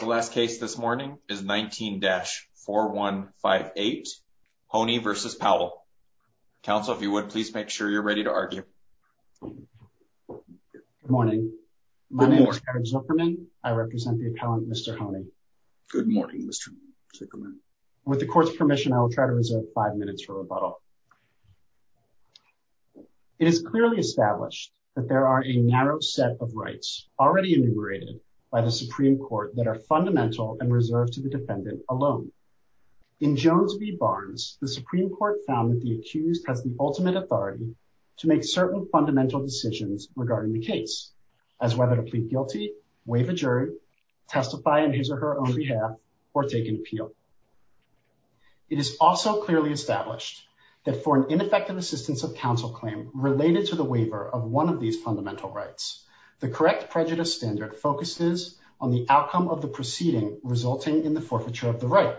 The last case this morning is 19-4158, Honie v. Powell. Counsel, if you would, please make sure you're ready to argue. Good morning. My name is Eric Zuckerman. I represent the accountant, Mr. Honie. Good morning, Mr. Zuckerman. With the court's permission, I will try to reserve five minutes for rebuttal. It is clearly established that there are a narrow set of rights already enumerated by the Supreme Court that are fundamental and reserved to the defendant alone. In Jones v. Barnes, the Supreme Court found that the accused has the ultimate authority to make certain fundamental decisions regarding the case, as whether to plead guilty, waive a jury, testify in his or her own behalf, or take appeal. It is also clearly established that for an ineffective assistance of counsel claim related to the waiver of one of these fundamental rights, the correct prejudice standard focuses on the outcome of the proceeding resulting in the forfeiture of the right.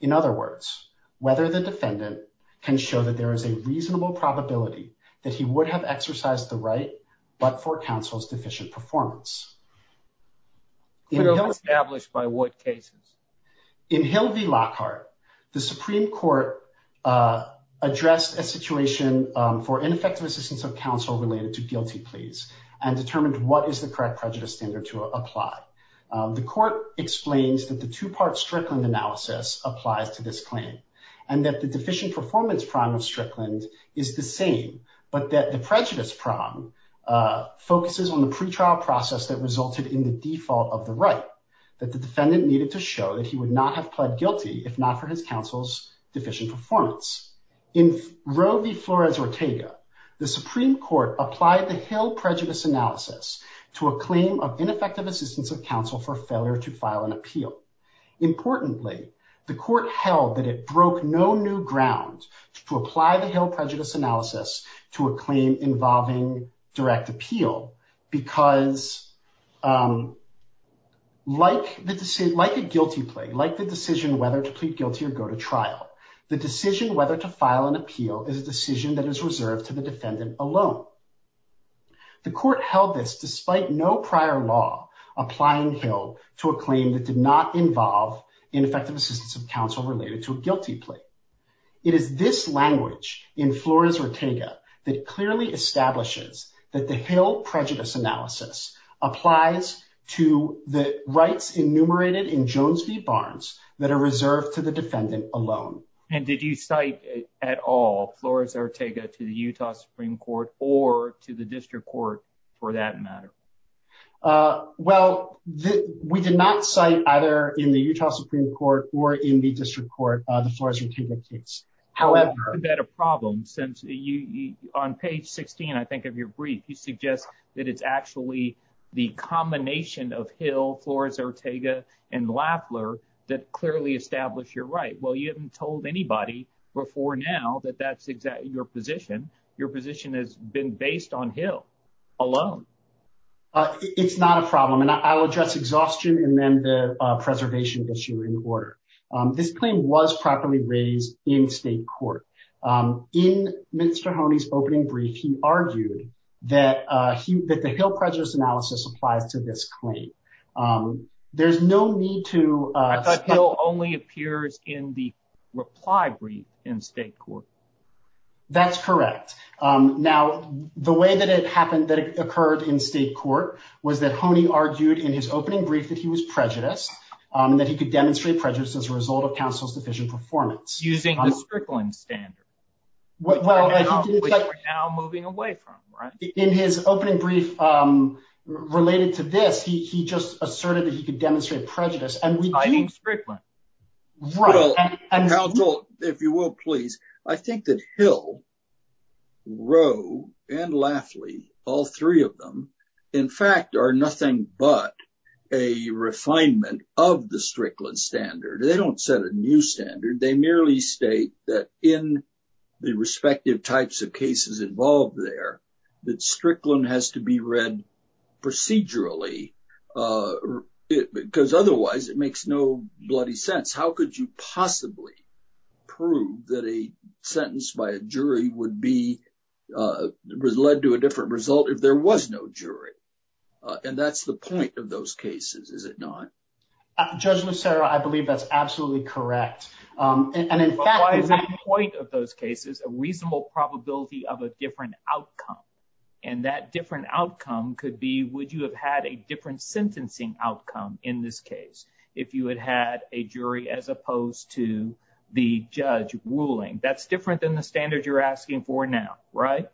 In other words, whether the defendant can show that there is a reasonable probability that he would have exercised the right, but for counsel's deficient performance. It is established by what cases? In Hill v. Lockhart, the Supreme Court addressed a situation for ineffective assistance of counsel related to guilty pleas and determined what is the correct prejudice standard to apply. The court explains that the two-part Strickland analysis applied to this claim, and that the deficient performance prong of Strickland is the same, but that the prejudice prong focuses on the pretrial process that resulted in the default of the right, that the defendant needed to show that he would not have pled guilty if not for his counsel's deficient performance. In Roe v. Flores-Ortega, the Supreme Court applied the Hill prejudice analysis to a claim of ineffective assistance of counsel for failure to file an appeal. Importantly, the court held that it broke no new ground to apply the Hill prejudice analysis to a claim involving direct appeal because, like a guilty plea, like the decision whether to plead guilty or go to trial, the decision whether to file an appeal is a decision that is reserved to the defendant alone. The court held this despite no prior law applying Hill to a claim that did not involve ineffective assistance of counsel related to a guilty plea. It is this language in Flores-Ortega that clearly establishes that the Hill prejudice analysis applies to the rights enumerated in Jones v. Barnes that are reserved to the defendant alone. And did you cite at all Flores-Ortega to the Utah Supreme Court or to the district court for that matter? Well, we did not cite either in the Utah Supreme Court or in the district court the Flores-Ortega case. Is that a problem since on page 16, I think, of your brief, you suggest that it's actually the combination of Hill, Flores-Ortega, and Lafler that clearly establish your right? Well, you haven't told anybody before now that that's exactly your position. Your position has been based on Hill alone. It's not a problem, and I'll address exhaustion and then the preservation issue in order. This claim was properly raised in state court. In Mr. Honey's opening brief, he argued that the Hill prejudice analysis applies to this claim. There's no need to— But Hill only appears in the reply brief in state court. That's correct. Now, the way that it occurred in state court was that Honey argued in his opening brief that he was prejudiced, that he could demonstrate prejudice as a result of counsel's deficient performance. Using the Strickland standard, which we're now moving away from, right? In his opening brief related to this, he just asserted that he could demonstrate prejudice. Citing Strickland. Well, if you will, please, I think that Hill, Roe, and Lafley, all three of them, in fact, are nothing but a refinement of the Strickland standard. They don't set a new standard. They merely state that in the respective types of cases involved there, that Strickland has to be read procedurally because otherwise it makes no bloody sense. How could you possibly prove that a sentence by a jury would be led to a different result if there was no jury? And that's the point of those cases, is it not? Judge Lucero, I believe that's absolutely correct. And in fact, the point of those cases, a reasonable probability of a different outcome, and that different outcome could be would you have had a different sentencing outcome in this case if you had had a jury as opposed to the judge ruling? That's different than the standard you're asking for now, right?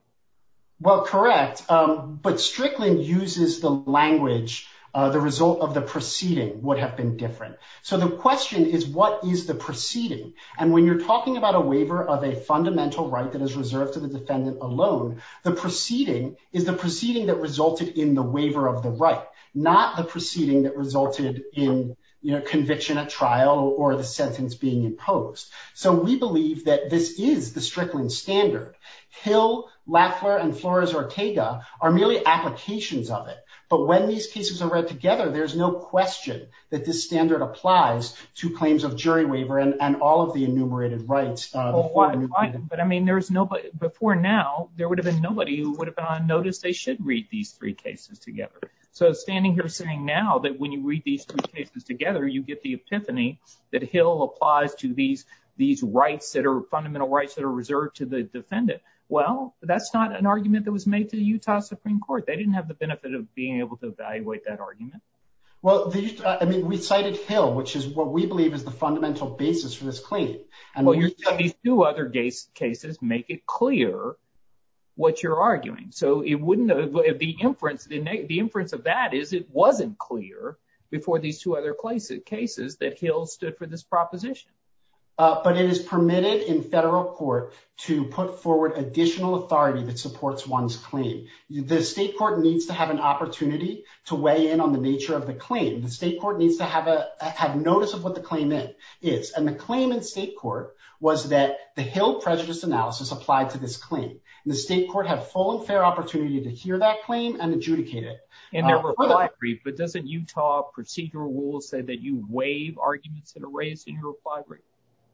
Well, correct, but Strickland uses the language, the result of the proceeding would have been different. So the question is what is the proceeding? And when you're talking about a waiver of a fundamental right that is reserved for the defendant alone, the proceeding is the proceeding that resulted in the waiver of the right, not the proceeding that resulted in conviction at trial or the sentence being imposed. So we believe that this is the Strickland standard. Hill, Lackler, and Flores-Ortega are merely applications of it. But when these cases are read together, there's no question that this standard applies to claims of jury waiver and all of the enumerated rights. But, I mean, before now, there would have been nobody who would have noticed they should read these three cases together. So standing here saying now that when you read these three cases together, you get the epiphany that Hill applies to these rights that are fundamental rights that are reserved to the defendant. Well, that's not an argument that was made to the Utah Supreme Court. They didn't have the benefit of being able to evaluate that argument. Well, I mean, we cited Hill, which is what we believe is the fundamental basis for this claim. Well, you're telling me two other cases make it clear what you're arguing. So it wouldn't be inference. The inference of that is it wasn't clear before these two other cases that Hill stood for this proposition. But it is permitted in federal court to put forward additional authority that supports one's claim. The state court needs to have an opportunity to weigh in on the nature of the claim. The state court needs to have notice of what the claim is. And the claim in state court was that the Hill prejudice analysis applied to this claim. And the state court had full and fair opportunity to hear that claim and adjudicate it. And there were five briefs. But doesn't Utah procedural rule say that you waive arguments that are raised in your reply brief?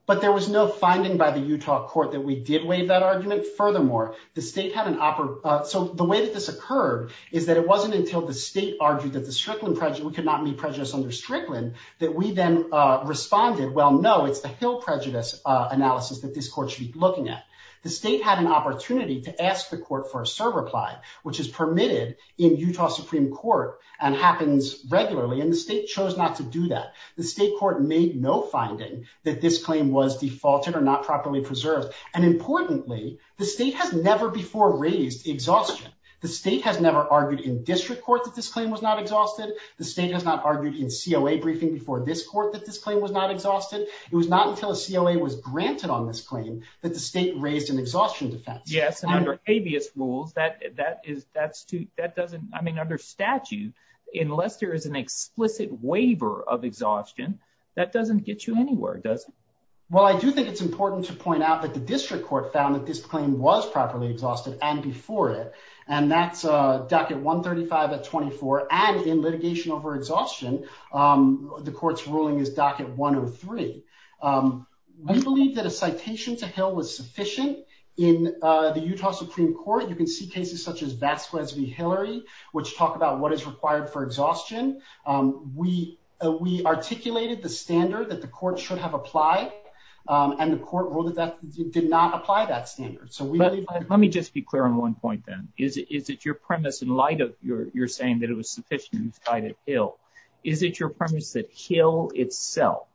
But there was no finding by the Utah court that we did waive that argument. Furthermore, the state had an – so the way that this occurred is that it wasn't until the state argued that the Strickland prejudice – we could not meet prejudice under Strickland – that we then responded, well, no, it's a Hill prejudice analysis that this court should be looking at. The state had an opportunity to ask the court for a serve reply, which is permitted in Utah Supreme Court and happens regularly. And the state chose not to do that. The state court made no finding that this claim was defaulted or not properly preserved. And importantly, the state has never before raised exhaustion. The state has never argued in district court that this claim was not exhausted. The state has not argued in COA briefing before this court that this claim was not exhausted. It was not until COA was granted on this claim that the state raised an exhaustion defense. Yes, and under habeas rules, that is – that doesn't – I mean under statute, unless there is an explicit waiver of exhaustion, that doesn't get you anywhere, does it? Well, I do think it's important to point out that the district court found that this claim was properly exhausted and before it. And that's docket 135 of 24. And in litigation over exhaustion, the court's ruling is docket 103. We believe that a citation to Hill was sufficient. In the Utah Supreme Court, you can see cases such as Baxwell v. Hillary, which talk about what is required for exhaustion. We articulated the standard that the court should have applied, and the court ruled that it did not apply that standard. Let me just be clear on one point, then. Is it your premise in light of your saying that it was sufficient in spite of Hill, is it your premise that Hill itself,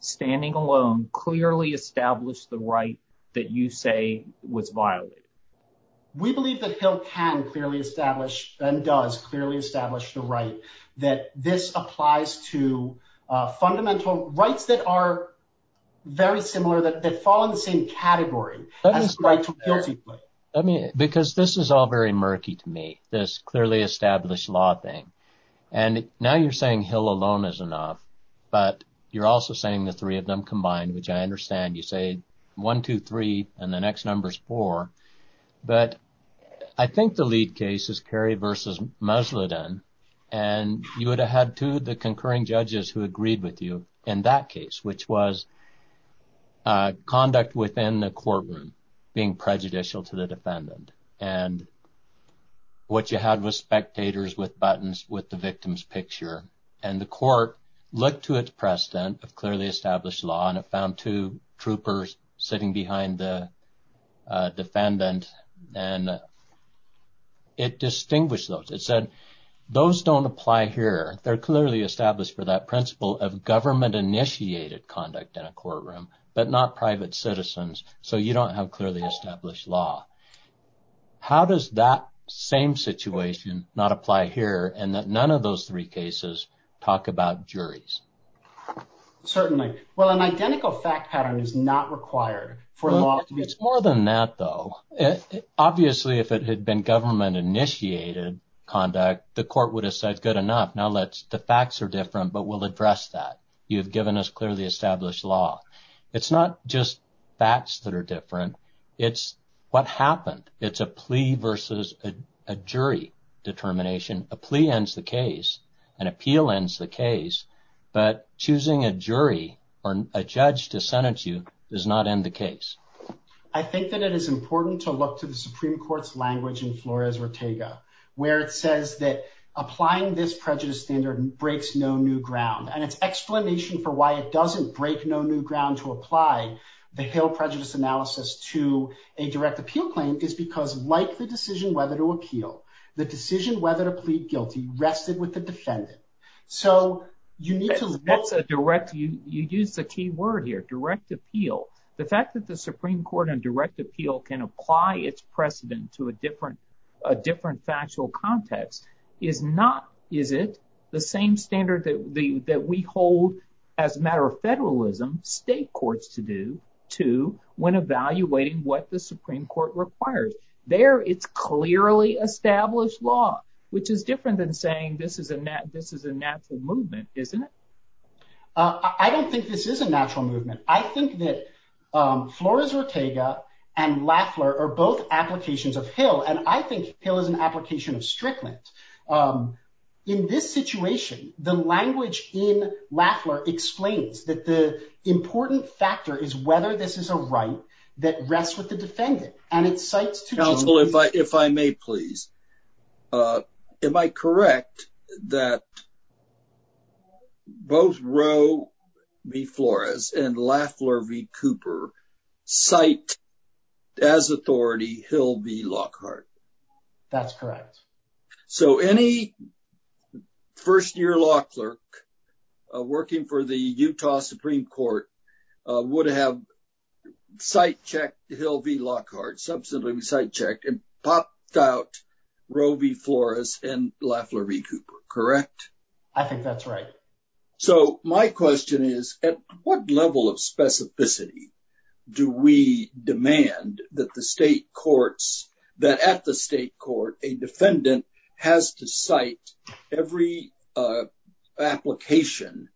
standing alone, clearly established the right that you say was violated? We believe that Hill can clearly establish and does clearly establish the right that this applies to fundamental rights that are very similar, that follow the same category. Because this is all very murky to me, this clearly established law thing. And now you're saying Hill alone is enough, but you're also saying the three of them combined, which I understand. You say one, two, three, and the next number is four. But I think the lead case is Kerry v. Musladin, and you would have had two of the concurring judges who agreed with you in that case, which was conduct within the courtroom being prejudicial to the defendant. And what you had was spectators with buttons with the victim's picture, and the court looked to its precedent of clearly established law, and it found two troopers sitting behind the defendant, and it distinguished those. It said, those don't apply here. They're clearly established for that principle of government-initiated conduct in a courtroom, but not private citizens, so you don't have clearly established law. How does that same situation not apply here, and that none of those three cases talk about juries? Certainly. Well, an identical fact pattern is not required for law to be established. It's more than that, though. Obviously, if it had been government-initiated conduct, the court would have said, good enough, now the facts are different, but we'll address that. You've given us clearly established law. It's not just facts that are different. It's what happened. It's a plea versus a jury determination. A plea ends the case. An appeal ends the case. But choosing a jury or a judge to sentence you does not end the case. I think that it is important to look to the Supreme Court's language in Flores-Ortega, where it says that applying this prejudice standard breaks no new ground. And its explanation for why it doesn't break no new ground to apply the failed prejudice analysis to a direct appeal claim is because, like the decision whether to appeal, the decision whether to plead guilty rested with the defendant. So you need to look at the direct – you used the key word here, direct appeal. The fact that the Supreme Court on direct appeal can apply its precedent to a different factual context is not – is it the same standard that we hold, as a matter of federalism, state courts to do, too, when evaluating what the Supreme Court requires. I think it's important to look at the language in Flores-Ortega, where it says that applying this prejudice standard breaks no new ground to apply the failed prejudice analysis to a direct appeal claim is because, like the decision whether to appeal, the decision whether to plead guilty rested with the defendant. And its explanation for why it doesn't break no new ground to apply the failed prejudice analysis to a direct appeal claim is because, like the decision whether to plead guilty rested with the defendant. Counsel, if I may, please. Am I correct that both Roe v. Flores and Lafleur v. Cooper cite, as authority, Hill v. Lockhart? That's correct. So any first-year law clerk working for the Utah Supreme Court would have cite-checked Hill v. Lockhart, subsequently cite-checked, and popped out Roe v. Flores and Lafleur v. Cooper, correct? I think that's right. So my question is, at what level of specificity do we demand that the state courts, that at the state court, a defendant has to cite every application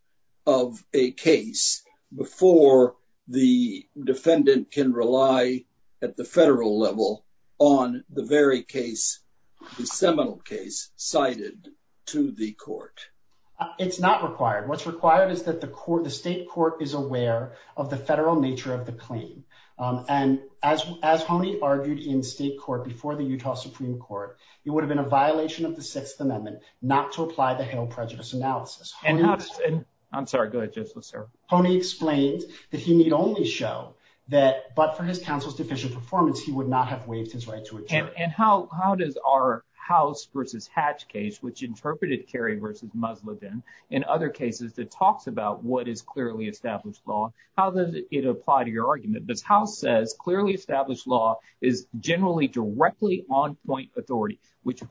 of a case before the defendant can rely at the federal level on the very case, the seminal case, cited to the court? It's not required. What's required is that the state court is aware of the federal nature of the claim. And as Honey argued in state court before the Utah Supreme Court, it would have been a violation of the Sixth Amendment not to apply the failed prejudice analysis. I'm sorry. Go ahead, Judge Lister. Honey explained that he may only show that, but for his counsel's deficient performance, he would not have waived his right to retain it. And how does our House v. Hatch case, which interpreted Kerry v. Muslivan and other cases that talks about what is clearly established law, how does it apply to your argument? The House says clearly established law is generally directly on point authority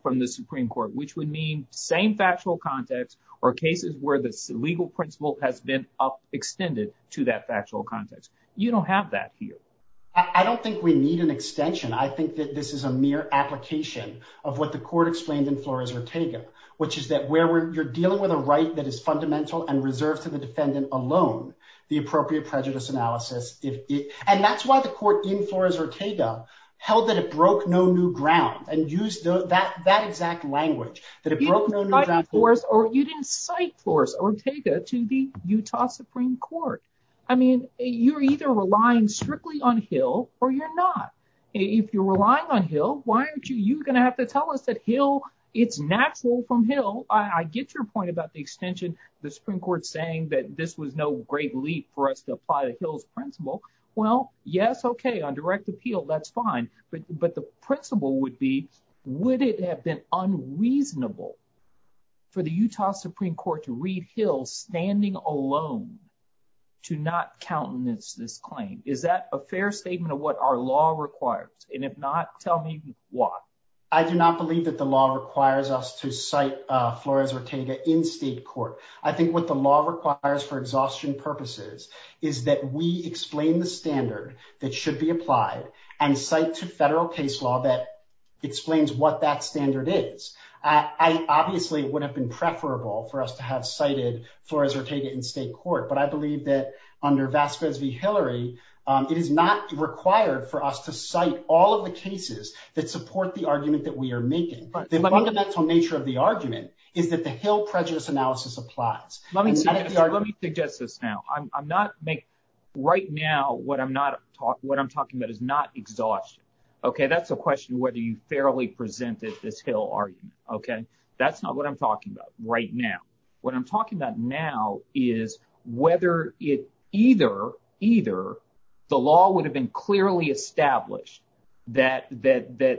from the Supreme Court, which would mean same factual context or cases where the legal principle has been extended to that factual context. You don't have that here. I don't think we need an extension. I think that this is a mere application of what the court explained in Flores-Ortega, which is that you're dealing with a right that is fundamental and reserved to the defendant alone. The appropriate prejudice analysis, and that's why the court in Flores-Ortega held that it broke no new ground and used that exact language. You didn't cite Flores-Ortega to the Utah Supreme Court. I mean, you're either relying strictly on Hill or you're not. If you're relying on Hill, why aren't you going to have to tell us that Hill – it's natural from Hill. I get your point about the extension, the Supreme Court saying that this was no great leap for us to apply the Hills principle. Well, yes, okay, on direct appeal, that's fine. But the principle would be would it have been unreasonable for the Utah Supreme Court to read Hill standing alone to not countenance this claim? Is that a fair statement of what our law requires? And if not, tell me why. I do not believe that the law requires us to cite Flores-Ortega in state court. I think what the law requires for exhaustion purposes is that we explain the standard that should be applied and cite to federal case law that explains what that standard is. Obviously, it would have been preferable for us to have cited Flores-Ortega in state court, but I believe that under Vassar v. Hillary, it is not required for us to cite all of the cases that support the argument that we are making. The fundamental nature of the argument is that the Hill prejudice analysis applies. Let me suggest this now. I'm not – right now, what I'm talking about is not exhaustion. That's a question whether you fairly presented this Hill argument. That's not what I'm talking about right now. What I'm talking about now is whether it – either the law would have been clearly established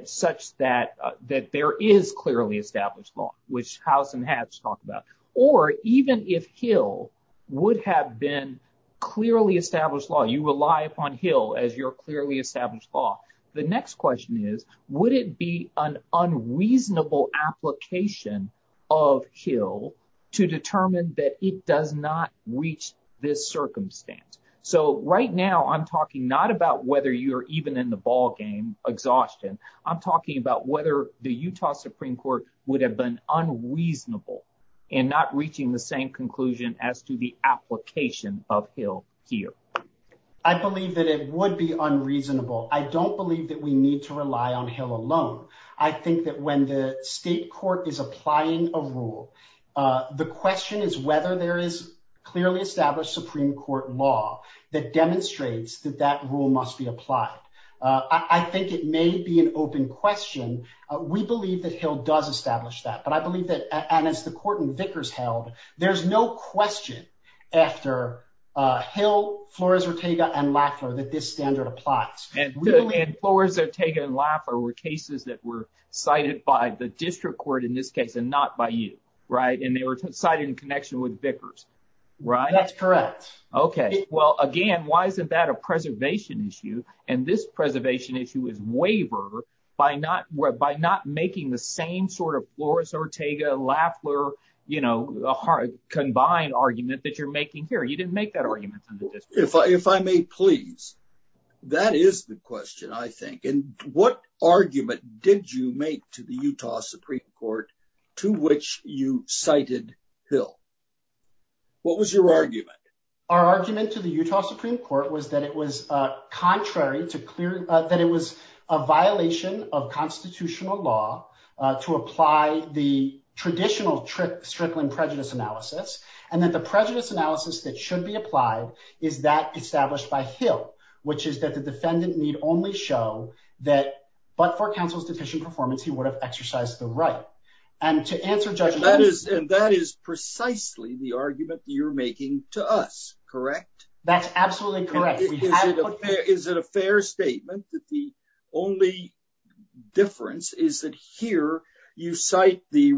such that there is clearly established law, which House and House talk about, or even if Hill would have been clearly established law. I believe that it would be unreasonable. I don't believe that we need to rely on Hill alone. I think that when the state court is applying a rule, the question is whether there is clearly established Supreme Court law that demonstrates that that rule must be applied. I think it may be an open question. We believe that Hill does establish that, but I believe that – and as the court in Vickers held, there's no question after Hill, Flores-Ortega, and Laffer that this standard applies. And Flores-Ortega and Laffer were cases that were cited by the district court in this case and not by you, right? And they were cited in connection with Vickers, right? That's correct. Okay. Well, again, why isn't that a preservation issue? And this preservation issue is wavered by not making the same sort of Flores-Ortega-Laffer combined argument that you're making here. You didn't make that argument in the district court. If I may, please, that is the question, I think. And what argument did you make to the Utah Supreme Court to which you cited Hill? What was your argument? Our argument to the Utah Supreme Court was that it was contrary to – that it was a violation of constitutional law to apply the traditional Strickland prejudice analysis, and that the prejudice analysis that should be applied is that established by Hill, which is that the defendant need only show that but for counsel's deficient performance, he would have exercised the right. And that is precisely the argument that you're making to us, correct? That's absolutely correct. Is it a fair statement that the only difference is that here you cite the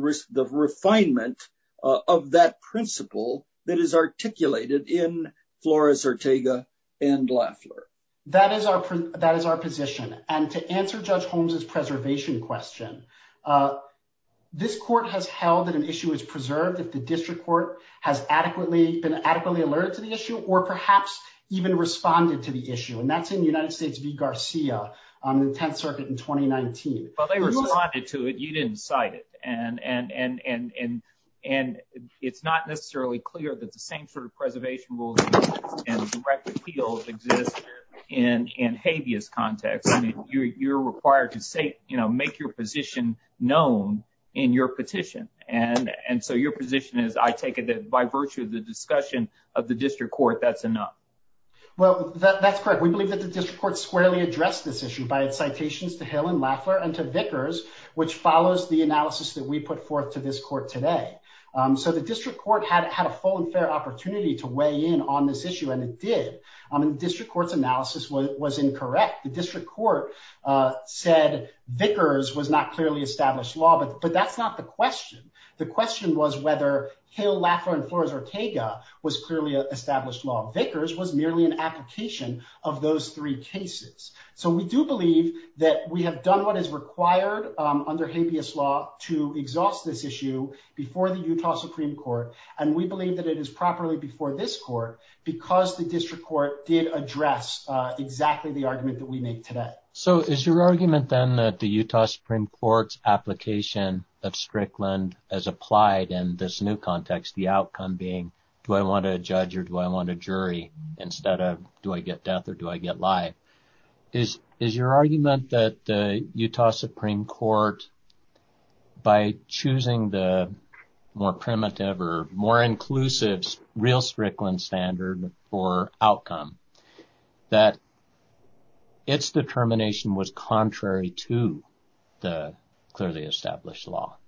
refinement of that principle that is articulated in Flores-Ortega and Laffer? That is our position. And to answer Judge Holmes' preservation question, this court has held that an issue is preserved if the district court has been adequately alerted to the issue or perhaps even responded to the issue, and that's in the United States v. Garcia on the 10th Circuit in 2019. But they responded to it. You didn't cite it. And it's not necessarily clear that the same sort of preservation rules and direct appeals exist in habeas context. I mean, you're required to make your position known in your petition. And so your position is I take it that by virtue of the discussion of the district court, that's enough. Well, that's correct. We believe that the district court squarely addressed this issue by citations to Hill and Laffer and to Vickers, which follows the analysis that we put forth to this court today. So the district court had a whole unfair opportunity to weigh in on this issue, and it did. And the district court's analysis was incorrect. The district court said Vickers was not clearly established law, but that's not the question. The question was whether Hill, Laffer, and Flores-Ortega was clearly established law. Vickers was merely an application of those three cases. So we do believe that we have done what is required under habeas law to exhaust this issue before the Utah Supreme Court. And we believe that it is properly before this court because the district court did address exactly the argument that we made today. So is your argument, then, that the Utah Supreme Court's application of Strickland as applied in this new context, the outcome being do I want a judge or do I want a jury instead of do I get death or do I get life? Is your argument that the Utah Supreme Court, by choosing the more primitive or more inclusive real Strickland standard for outcome, that its determination was contrary to the clearly established law?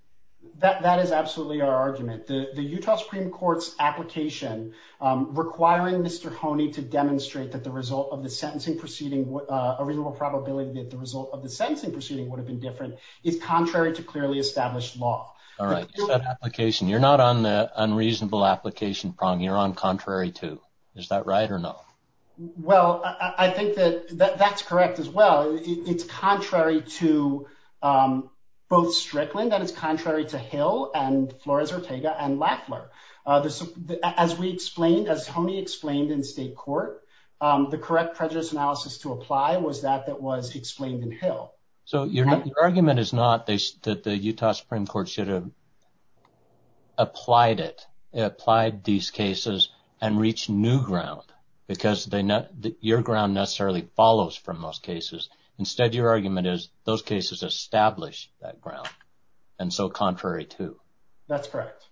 That is absolutely our argument. The Utah Supreme Court's application requiring Mr. Honey to demonstrate that the result of the sentencing proceeding, a reasonable probability that the result of the sentencing proceeding would have been different is contrary to clearly established law. All right. You're not on the unreasonable application prong. You're on contrary to. Is that right or no? Well, I think that that's correct as well. It's contrary to both Strickland and it's contrary to Hill and Flores-Ortega and Lackler. As we explained, as Tony explained in the state court, the correct prejudice analysis to apply was that that was explained in Hill. So your argument is not that the Utah Supreme Court should have applied it, applied these cases and reach new ground because your ground necessarily follows from those cases. Instead, your argument is those cases establish that ground and so contrary to. That's correct.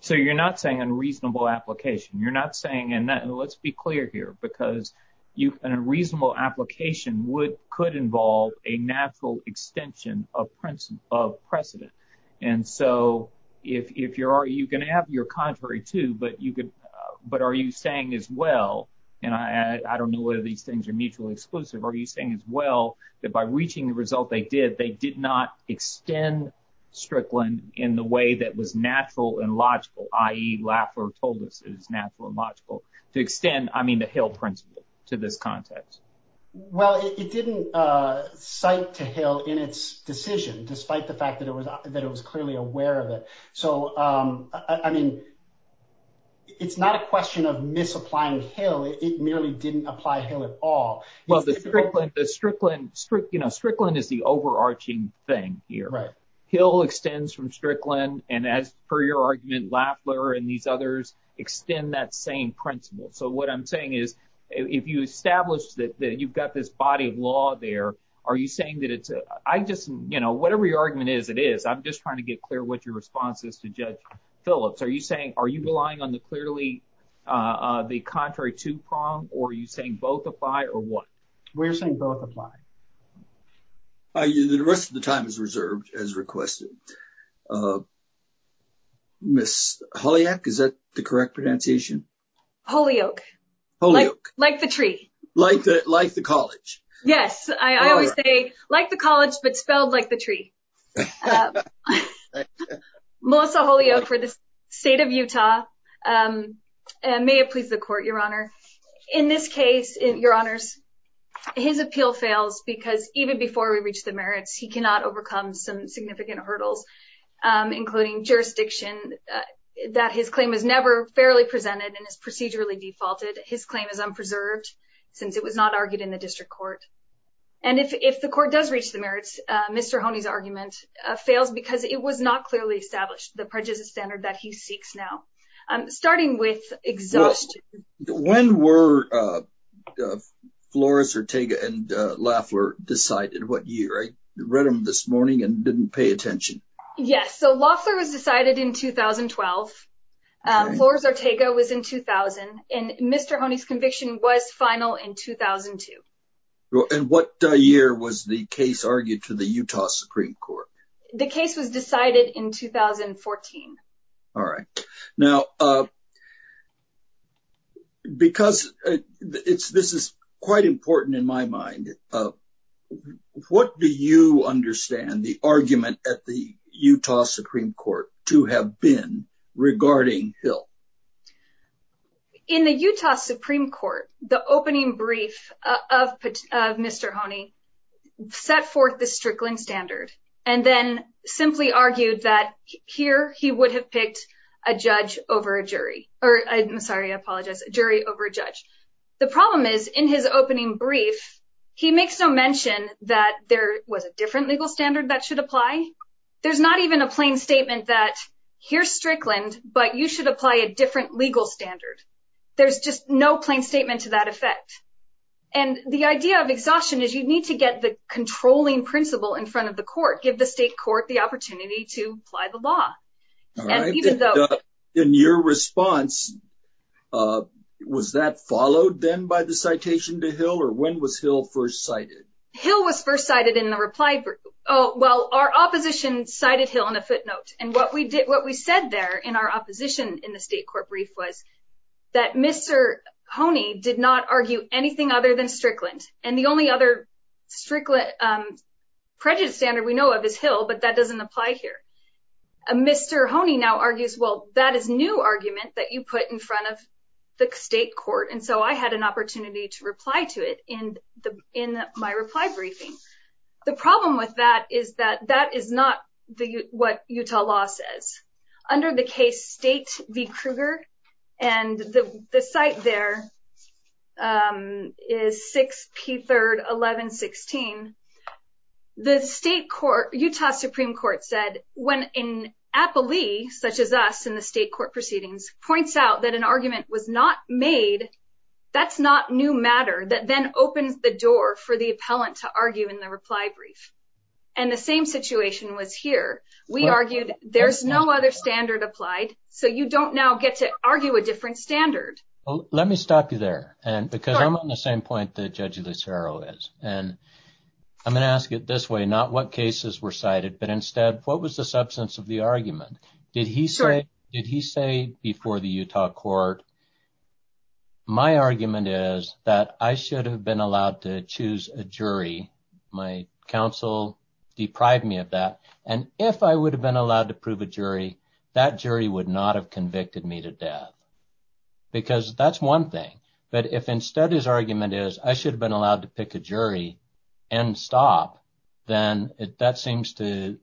So you're not saying unreasonable application. You're not saying and let's be clear here because an unreasonable application could involve a natural extension of precedent. And so if you're – you can have you're contrary to, but you could – but are you saying as well, and I don't know whether these things are mutually exclusive, are you saying as well that by reaching the result they did, they did not extend Strickland in the way that was natural and logical, i.e., Lackler told us is natural and logical, to extend, I mean, the Hill principle to this context? Well, it didn't cite to Hill in its decision despite the fact that it was clearly aware of it. So, I mean, it's not a question of misapplying Hill. It merely didn't apply Hill at all. Well, the Strickland – you know, Strickland is the overarching thing here. Hill extends from Strickland, and as per your argument, Lackler and these others extend that same principle. So what I'm saying is if you establish that you've got this body of law there, are you saying that it's – I just – you know, whatever your argument is, it is. I'm just trying to get clear what your response is to Judge Phillips. Are you saying – are you relying on the clearly the contrary to prong, or are you saying both apply or what? We're saying both apply. The rest of the time is reserved as requested. Ms. Holiak, is that the correct pronunciation? Holiak. Holiak. Like the tree. Like the college. Yes. I always say like the college, but spelled like the tree. Melissa Holiak for the State of Utah. May it please the Court, Your Honor. In this case, Your Honors, his appeal fails because even before we reach the merits, he cannot overcome some significant hurdles, including jurisdiction that his claim is never fairly presented and is procedurally defaulted. His claim is unpreserved since it was not argued in the district court. And if the court does reach the merits, Mr. Hone's argument fails because it was not clearly established, the prejudice standard that he seeks now. When were Flores Ortega and Loeffler decided? What year? I read them this morning and didn't pay attention. Yes. So, Loeffler was decided in 2012. Flores Ortega was in 2000. And Mr. Hone's conviction was final in 2002. And what year was the case argued to the Utah Supreme Court? The case was decided in 2014. All right. Now, because this is quite important in my mind, what do you understand the argument at the Utah Supreme Court to have been regarding Hill? In the Utah Supreme Court, the opening brief of Mr. Hone set forth the Strickland standard and then simply argued that here he would have picked a judge over a jury. I'm sorry. I apologize. A jury over a judge. The problem is in his opening brief, he makes no mention that there was a different legal standard that should apply. There's not even a plain statement that here's Strickland, but you should apply a different legal standard. There's just no plain statement to that effect. And the idea of exhaustion is you need to get the controlling principle in front of the court, give the state court the opportunity to apply the law. All right. In your response, was that followed then by the citation to Hill or when was Hill first cited? Hill was first cited in the reply. Oh, well, our opposition cited Hill in a footnote. And what we did, what we said there in our opposition in the state court brief was that Mr. Hone did not argue anything other than Strickland. And the only other Strickland prejudice standard we know of is Hill, but that doesn't apply here. Mr. Hone now argues, well, that is new argument that you put in front of the state court. And so I had an opportunity to reply to it in my reply briefing. The problem with that is that that is not what Utah law says. Under the case State v. Kruger, and the cite there is 6P31116, the state court, Utah Supreme Court said when an appellee such as us in the state court proceedings points out that an argument was not made, that's not new matter that then opens the door for the appellant to argue in the reply brief. And the same situation was here. We argued there's no other standard applied, so you don't now get to argue a different standard. Well, let me stop you there, because I'm on the same point that Judge Lucero is. And I'm going to ask it this way, not what cases were cited, but instead, what was the substance of the argument? Did he say before the Utah court, my argument is that I should have been allowed to choose a jury. My counsel deprived me of that. And if I would have been allowed to prove a jury, that jury would not have convicted me to death. Because that's one thing. But if instead his argument is, I should have been allowed to pick a jury and stop, then that seems to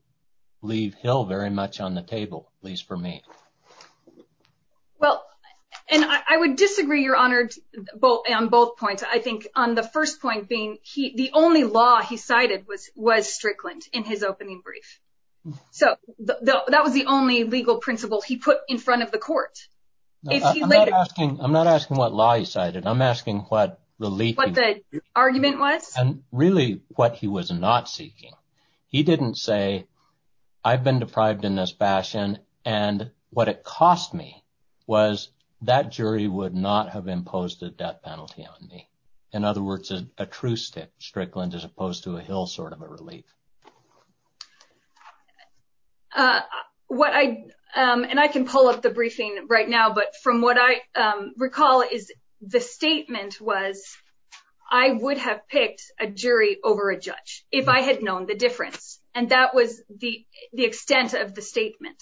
leave Hill very much on the table, at least for me. Well, and I would disagree, Your Honor, on both points. I think on the first point being, the only law he cited was Strickland in his opening brief. So that was the only legal principle he put in front of the court. I'm not asking what law he cited. I'm asking what the argument was and really what he was not seeking. He didn't say, I've been deprived in this fashion, and what it cost me was that jury would not have imposed a death penalty on me. In other words, a true Strickland as opposed to a Hill sort of a relief. And I can pull up the briefing right now, but from what I recall is the statement was, I would have picked a jury over a judge if I had known the difference. And that was the extent of the statement.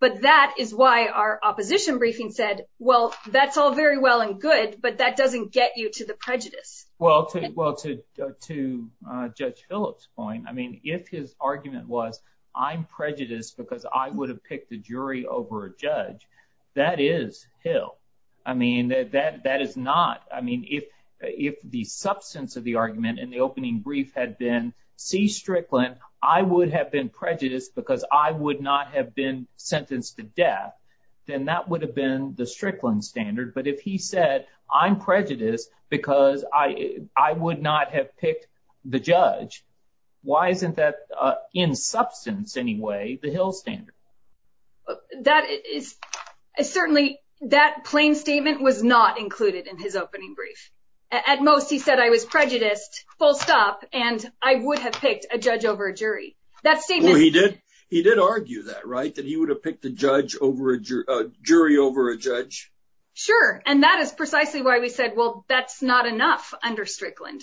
But that is why our opposition briefing said, well, that's all very well and good, but that doesn't get you to the prejudice. Well, to Judge Phillips' point, I mean, if his argument was, I'm prejudiced because I would have picked a jury over a judge, that is Hill. I mean, that is not – I mean, if the substance of the argument in the opening brief had been, see Strickland, I would have been prejudiced because I would not have been sentenced to death, then that would have been the Strickland standard. But if he said, I'm prejudiced because I would not have picked the judge, why isn't that in substance anyway the Hill standard? That is – certainly that plain statement was not included in his opening brief. At most he said, I was prejudiced, full stop, and I would have picked a judge over a jury. That statement – Well, he did argue that, right, that he would have picked a judge over a – a jury over a judge? Sure, and that is precisely why we said, well, that's not enough under Strickland.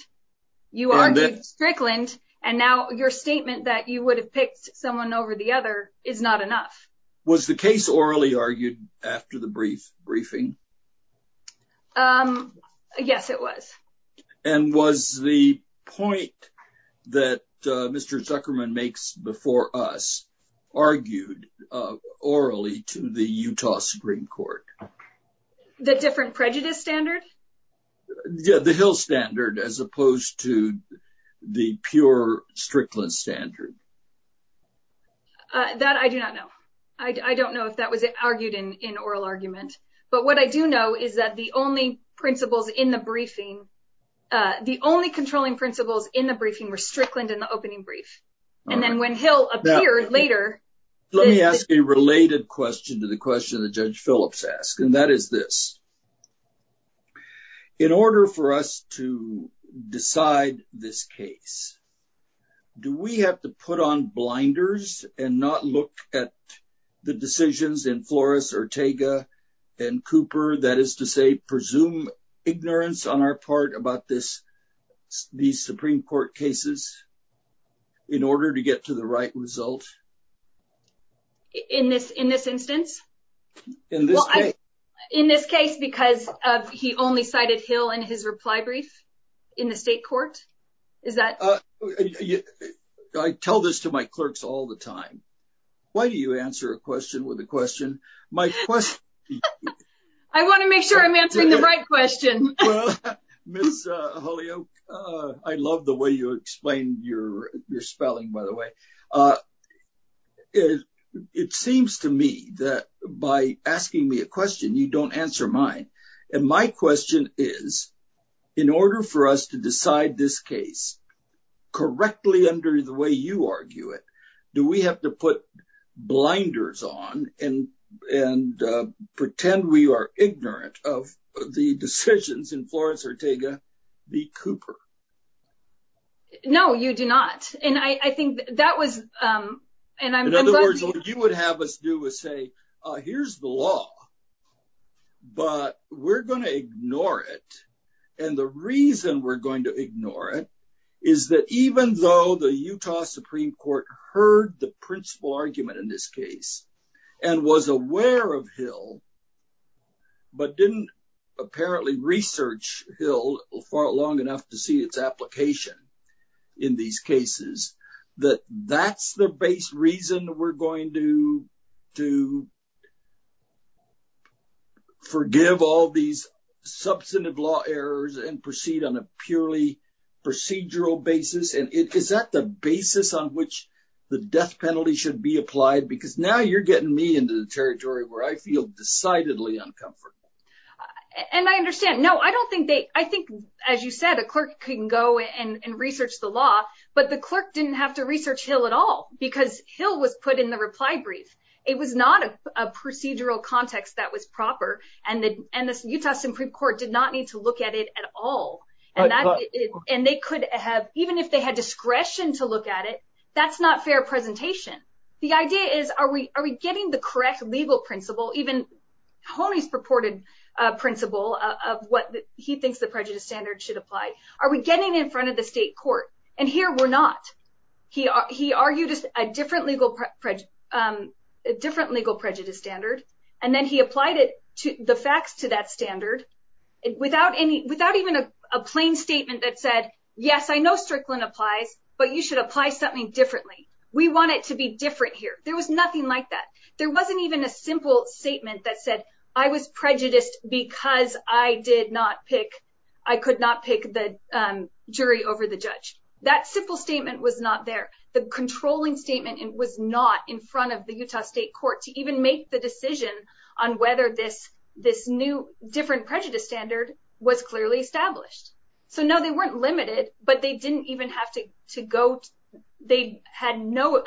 You argued Strickland, and now your statement that you would have picked someone over the other is not enough. Was the case orally argued after the brief briefing? Yes, it was. And was the point that Mr. Zuckerman makes before us argued orally to the Utah Supreme Court? The different prejudice standards? Yeah, the Hill standard as opposed to the pure Strickland standard. That I do not know. I don't know if that was argued in oral argument. But what I do know is that the only principles in the briefing – the only controlling principles in the briefing were Strickland and the opening brief. And then when Hill appeared later – Did you put on blinders and not look at the decisions in Flores, Ortega, and Cooper, that is to say, presume ignorance on our part about this – these Supreme Court cases in order to get to the right result? In this – in this instance? In this case. In this case because he only cited Hill in his reply brief in the state court? Is that – I tell this to my clerks all the time. Why do you answer a question with a question? My question – I want to make sure I'm answering the right question. I love the way you explain your spelling, by the way. It seems to me that by asking me a question, you don't answer mine. And my question is, in order for us to decide this case correctly under the way you argue it, do we have to put blinders on and pretend we are ignorant of the decisions in Flores, Ortega, v. Cooper? No, you do not. And I think that was – In other words, what you would have us do is say, here's the law, but we're going to ignore it. And the reason we're going to ignore it is that even though the Utah Supreme Court heard the principal argument in this case and was aware of Hill, but didn't apparently research Hill long enough to see its application in these cases, that that's the base reason we're going to forgive all these substantive law errors and proceed on a purely procedural basis? Is that the basis on which the death penalty should be applied? Because now you're getting me into the territory where I feel decidedly uncomfortable. And I understand. No, I don't think they – I think, as you said, a clerk can go and research the law, but the clerk didn't have to research Hill at all because Hill was put in the reply brief. It was not a procedural context that was proper, and the Utah Supreme Court did not need to look at it at all. And they could have – even if they had discretion to look at it, that's not fair presentation. The idea is, are we getting the correct legal principle, even Honey's purported principle of what he thinks the prejudice standard should apply? Are we getting in front of the state court? And here we're not. He argued a different legal prejudice standard, and then he applied it – the facts to that standard without any – without even a plain statement that said, yes, I know Strickland applied, but you should apply something differently. We want it to be different here. There was nothing like that. There wasn't even a simple statement that said, I was prejudiced because I did not pick – I could not pick the jury over the judge. That simple statement was not there. The controlling statement was not in front of the Utah state court to even make the decision on whether this new different prejudice standard was clearly established. So, no, they weren't limited, but they didn't even have to go – they had no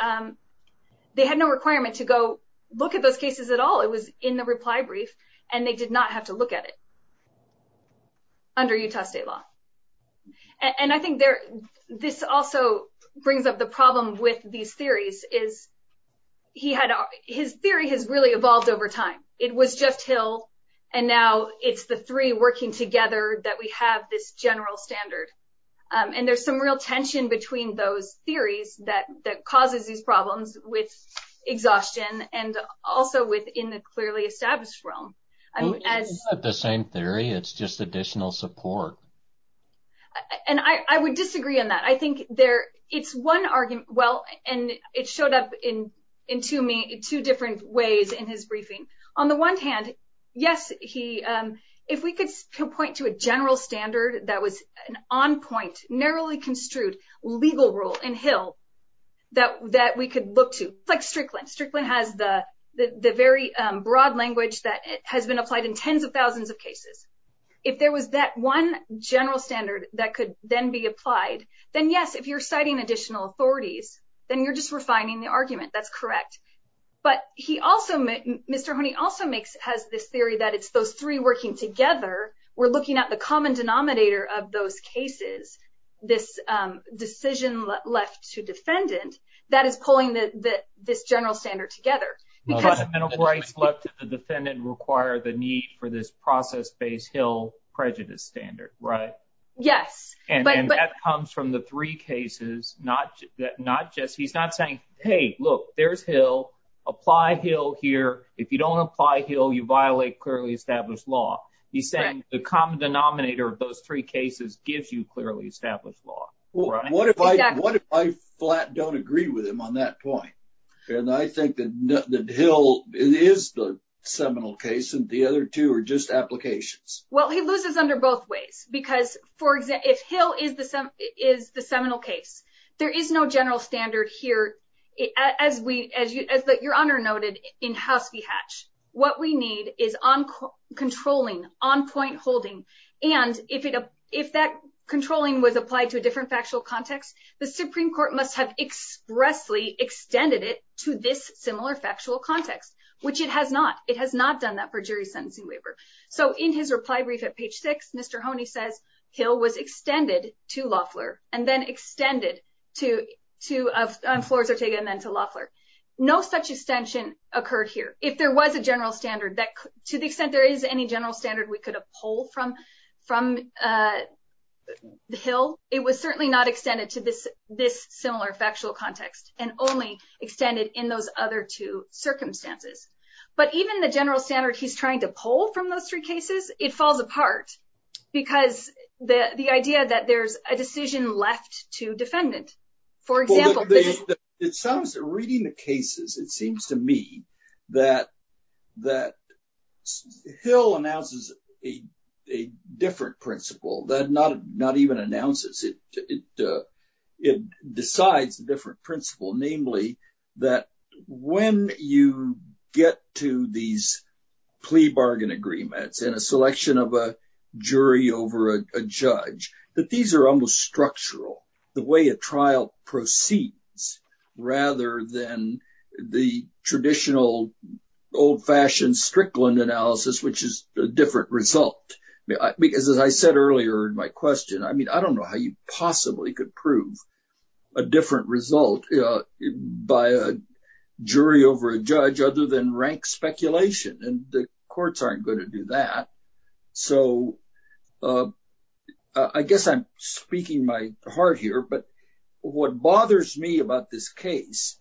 – they had no requirement to go look at those cases at all. It was in the reply brief, and they did not have to look at it under Utah state law. And I think there – this also brings up the problem with these theories is he had – his theory has really evolved over time. It was just Hill, and now it's the three working together that we have this general standard. And there's some real tension between those theories that causes these problems with exhaustion and also within the clearly established realm. It's not the same theory. It's just additional support. And I would disagree on that. I think there – it's one – well, and it showed up in two different ways in his briefing. On the one hand, yes, he – if we could point to a general standard that was an on-point, narrowly construed legal rule in Hill that we could look to, like Strickland. Strickland has the very broad language that has been applied in tens of thousands of cases. If there was that one general standard that could then be applied, then yes, if you're citing additional authorities, then you're just refining the argument. That's correct. But he also – Mr. Honey also makes – has this theory that it's those three working together. We're looking at the common denominator of those cases, this decision left to defendant, that is pulling this general standard together. Fundamental rights left to the defendant require the need for this process-based Hill prejudice standard, right? Yes. And that comes from the three cases, not just – he's not saying, hey, look, there's Hill. Apply Hill here. If you don't apply Hill, you violate clearly established law. He's saying the common denominator of those three cases gives you clearly established law. What if I flat don't agree with him on that point? And I think that Hill is the seminal case and the other two are just applications. Well, he loses under both ways because, for example, if Hill is the seminal case, there is no general standard here, as your Honor noted, in House v. Hatch. What we need is controlling, on-point holding, and if that controlling was applied to a different factual context, the Supreme Court must have expressly extended it to this similar factual context, which it has not. It has not done that for jury sentencing waiver. So in his reply brief at page 6, Mr. Hone says Hill was extended to Loeffler and then extended to – on floor 38 and then to Loeffler. No such extension occurred here. If there was a general standard that – to the extent there is any general standard we could uphold from Hill, it was certainly not extended to this similar factual context and only extended in those other two circumstances. But even the general standard he's trying to pull from those three cases, it falls apart because the idea that there's a decision left to defendants. For example – Reading the cases, it seems to me that Hill announces a different principle that not even announces. It decides a different principle, namely that when you get to these plea bargain agreements and a selection of a jury over a judge, that these are almost structural, the way a trial proceeds, rather than the traditional old-fashioned Strickland analysis, which is a different result. Because as I said earlier in my question, I mean, I don't know how you possibly could prove a different result by a jury over a judge other than rank speculation, and the courts aren't going to do that. So I guess I'm speaking my heart here, but what bothers me about this case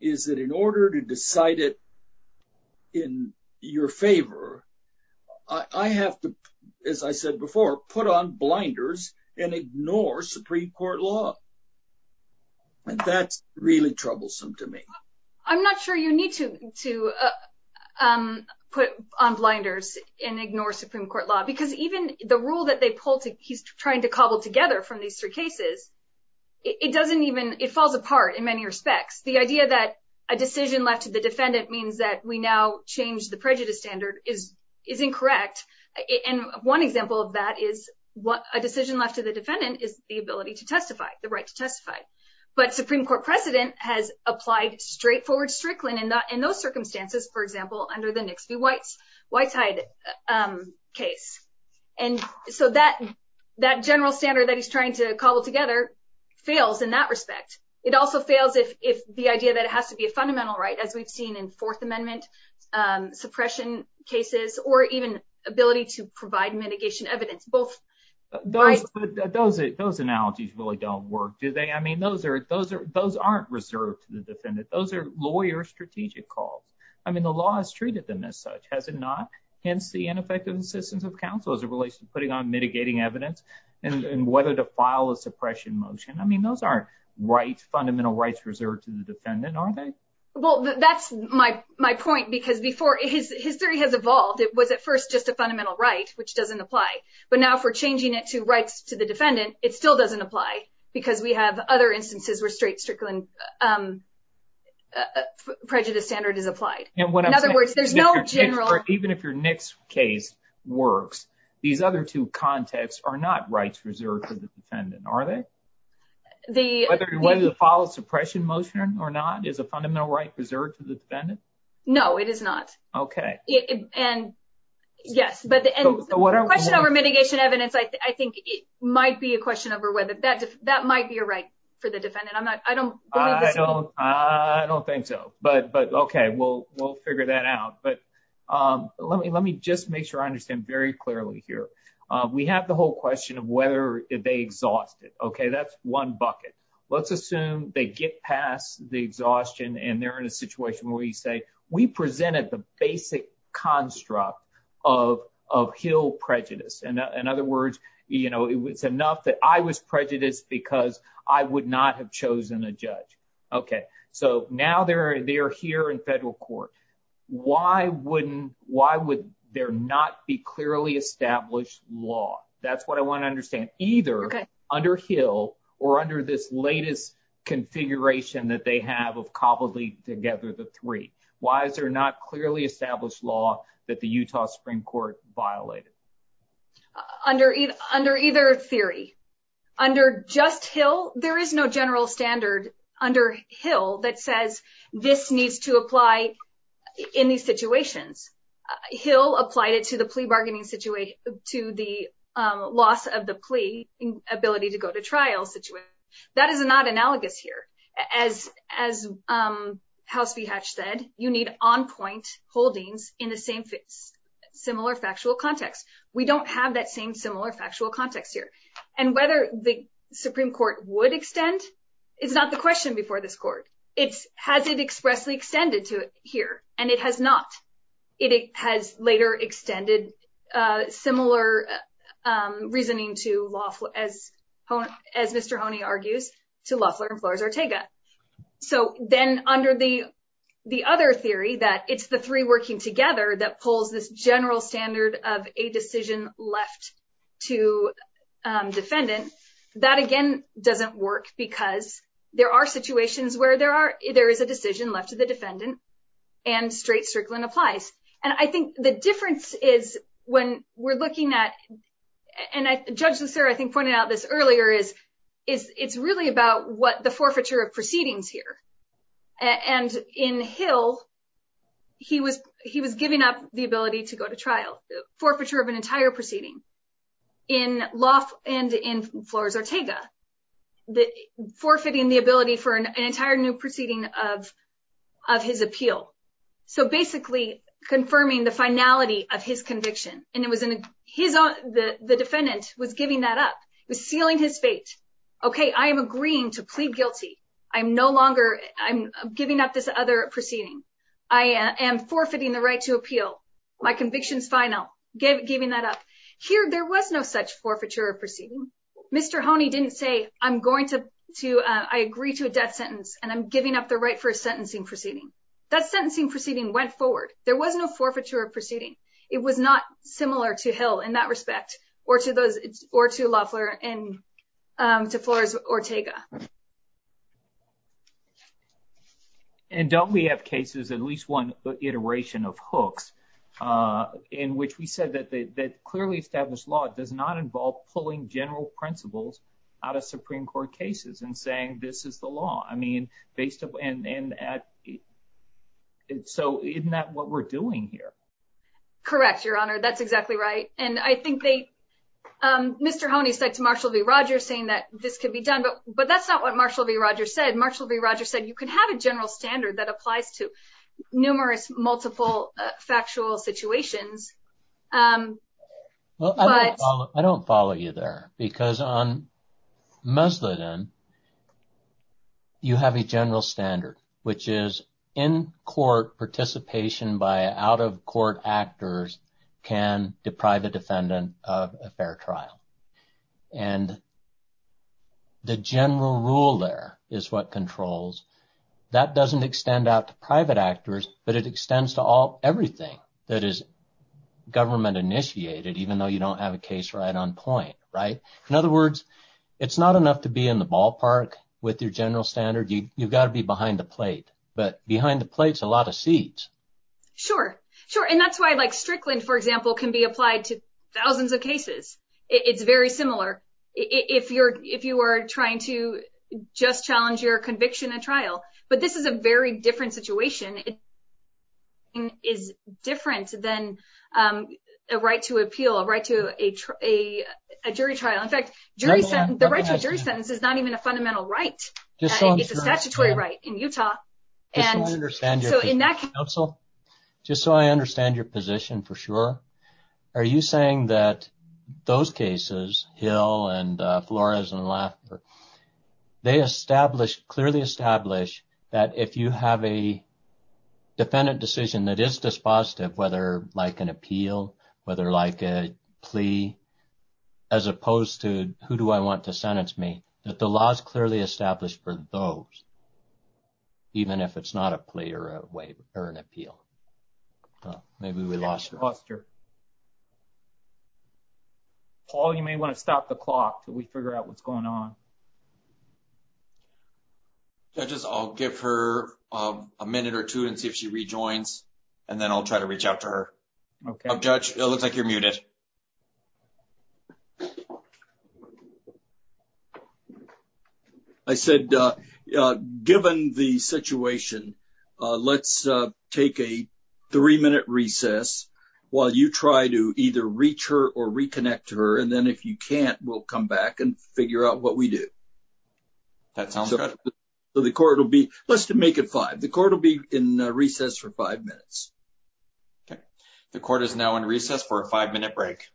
is that in order to decide it in your favor, I have to, as I said before, put on blinders and ignore Supreme Court law. And that's really troublesome to me. I'm not sure you need to put on blinders and ignore Supreme Court law, because even the rule that they pulled that he's trying to cobble together from these three cases, it doesn't even – it falls apart in many respects. The idea that a decision left to the defendant means that we now change the prejudice standard is incorrect. And one example of that is a decision left to the defendant is the ability to testify, the right to testify. But Supreme Court precedent has applied straightforward Strickland in those circumstances, for example, under the Nixey Whitehead case. And so that general standard that he's trying to cobble together fails in that respect. It also fails if the idea that it has to be a fundamental right, as we've seen in Fourth Amendment suppression cases or even ability to provide mitigation evidence. But those analogies really don't work, do they? I mean, those aren't reserved to the defendant. Those are lawyer strategic calls. I mean, the law has treated them as such, has it not? Hence the ineffective insistence of counsel as it relates to putting on mitigating evidence and whether to file a suppression motion. I mean, those aren't fundamental rights reserved to the defendant, are they? Well, that's my point, because before, history has evolved. It was at first just a fundamental right, which doesn't apply. But now for changing it to rights to the defendant, it still doesn't apply because we have other instances where straight Strickland prejudice standard is applied. In other words, there's no general... Even if your Nix case works, these other two contexts are not rights reserved to the defendant, are they? Whether to file a suppression motion or not is a fundamental right reserved to the defendant? No, it is not. Okay. And yes, but the question over mitigation evidence, I think it might be a question over whether that might be a right for the defendant. I don't think so. But okay, we'll figure that out. But let me just make sure I understand very clearly here. We have the whole question of whether they exhaust it. Okay, that's one bucket. Let's assume they get past the exhaustion and they're in a situation where you say, we presented the basic construct of Hill prejudice. In other words, you know, it was enough that I was prejudiced because I would not have chosen a judge. Okay, so now they're here in federal court. Why would there not be clearly established law? That's what I want to understand. Either under Hill or under this latest configuration that they have of cobbled together the three. Why is there not clearly established law that the Utah Supreme Court violated? Under either theory, under just Hill, there is no general standard under Hill that says this needs to apply in these situations. Hill applied it to the plea bargaining situation, to the loss of the plea ability to go to trial situation. That is not analogous here. As House V. Hatch said, you need on point holdings in a similar factual context. We don't have that same similar factual context here. And whether the Supreme Court would extend is not the question before this court. Has it expressly extended to it here? And it has not. It has later extended similar reasoning to lawful as Mr. Honey argues to Loeffler and Flores-Ortega. So then under the the other theory that it's the three working together that pulls this general standard of a decision left to defendants. That, again, doesn't work because there are situations where there are there is a decision left to the defendant and straight circling applies. And I think the difference is when we're looking at, and Judge Lucero I think pointed out this earlier, is it's really about what the forfeiture of proceedings here. And in Hill, he was he was giving up the ability to go to trial. Forfeiture of an entire proceeding in Loeffler and in Flores-Ortega. Forfeiting the ability for an entire new proceeding of his appeal. So basically confirming the finality of his conviction. The defendant was giving that up, was sealing his fate. Okay, I am agreeing to plead guilty. I'm no longer I'm giving up this other proceeding. I am forfeiting the right to appeal. My conviction's final. Giving that up. Here there was no such forfeiture of proceedings. Mr. Honey didn't say I'm going to I agree to a death sentence and I'm giving up the right for a sentencing proceeding. That sentencing proceeding went forward. There was no forfeiture of proceedings. It was not similar to Hill in that respect or to Loeffler and to Flores-Ortega. And don't we have cases, at least one iteration of Hooks, in which we said that clearly established law does not involve pulling general principles out of Supreme Court cases and saying this is the law. I mean, and so isn't that what we're doing here? Correct, Your Honor. That's exactly right. And I think they, Mr. Honey said to Marshall v. Rogers saying that this could be done. But that's not what Marshall v. Rogers said. Marshall v. Rogers said you could have a general standard that applies to numerous, multiple factual situations. Well, I don't follow you there because on Musladeen, you have a general standard, which is in-court participation by out-of-court actors can deprive a defendant of a fair trial. And the general rule there is what controls. That doesn't extend out to private actors, but it extends to everything that is government-initiated, even though you don't have a case right on point, right? In other words, it's not enough to be in the ballpark with your general standard. You've got to be behind the plate. But behind the plate's a lot of seeds. Sure. Sure. And that's why, like, Strickland, for example, can be applied to thousands of cases. It's very similar. If you are trying to just challenge your conviction at trial. But this is a very different situation. It's different than a right to appeal, a right to a jury trial. In fact, the right to a jury sentence is not even a fundamental right. It's a statutory right in Utah. Just so I understand your position for sure, are you saying that those cases, Hill and Flores and Laffer, they clearly establish that if you have a defendant decision that is dispositive, whether like an appeal, whether like a plea, as opposed to who do I want to sentence me, that the law is clearly established for those, even if it's not a plea or an appeal? Maybe we lost her. Paul, you may want to stop the clock so we figure out what's going on. I'll give her a minute or two and see if she rejoins, and then I'll try to reach out to her. Judge, it looks like you're muted. I said, given the situation, let's take a three-minute recess while you try to either reach her or reconnect to her, and then if you can't, we'll come back and figure out what we do. That sounds good. Let's make it five. The court will be in recess for five minutes. The court is now in recess for a five-minute break.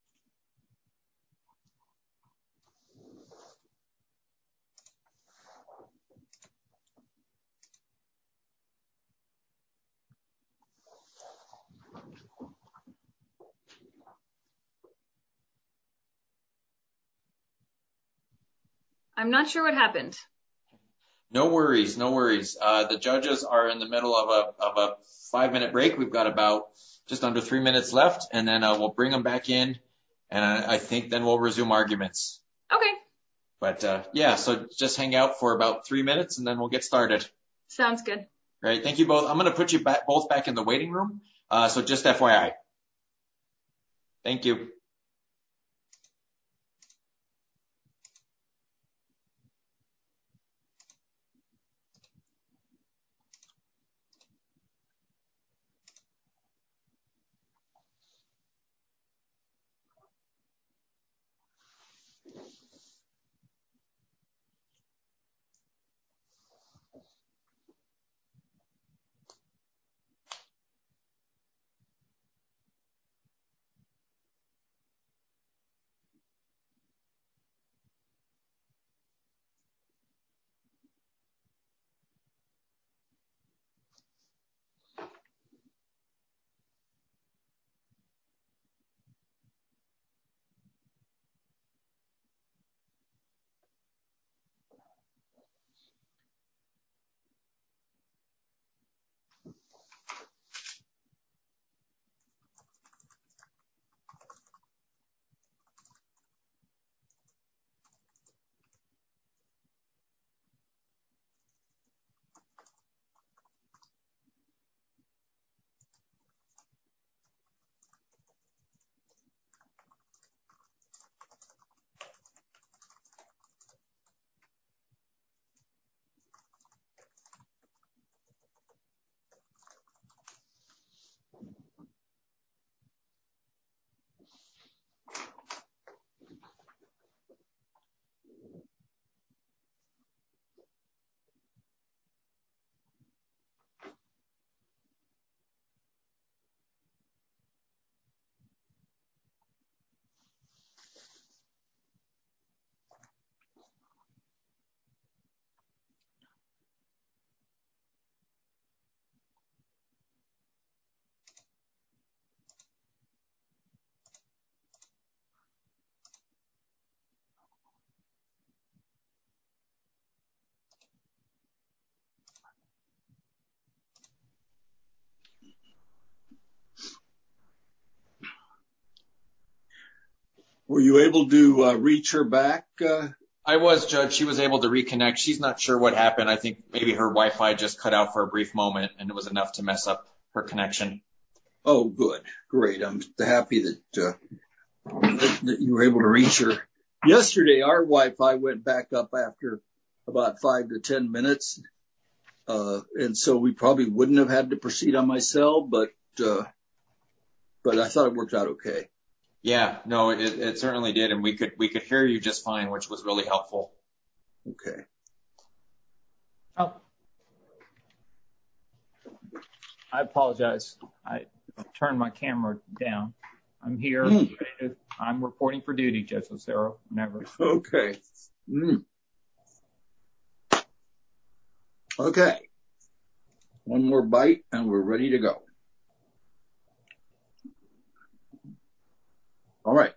Thank you. Thank you. Thank you. Thank you. I'm not sure what happened. No worries. No worries. The judges are in the middle of a five-minute break. We've got about just under three minutes left, and then we'll bring them back in, and I think then we'll resume arguments. Okay. Yeah, so just hang out for about three minutes, and then we'll get started. Sounds good. Great. Thank you both. I'm going to put you both back in the waiting room, so just FYI. Thank you. Thank you. Thank you. Thank you. Were you able to reach her back? I was, Judge. She was able to reconnect. She's not sure what happened. I think maybe her Wi-Fi just cut out for a brief moment, and it was enough to mess up her connection. Oh, good. Great. I'm happy that you were able to reach her. Yesterday, our Wi-Fi went back up after about five to ten minutes, and so we probably wouldn't have had to proceed on my cell, but I thought it worked out okay. Yeah, no, it certainly did, and we could hear you just fine, which was really helpful. Okay. Oh. I apologize. I turned my camera down. I'm here. I'm reporting for duty, Judge Lucero. Never. Okay. Okay. One more bite, and we're ready to go. All right.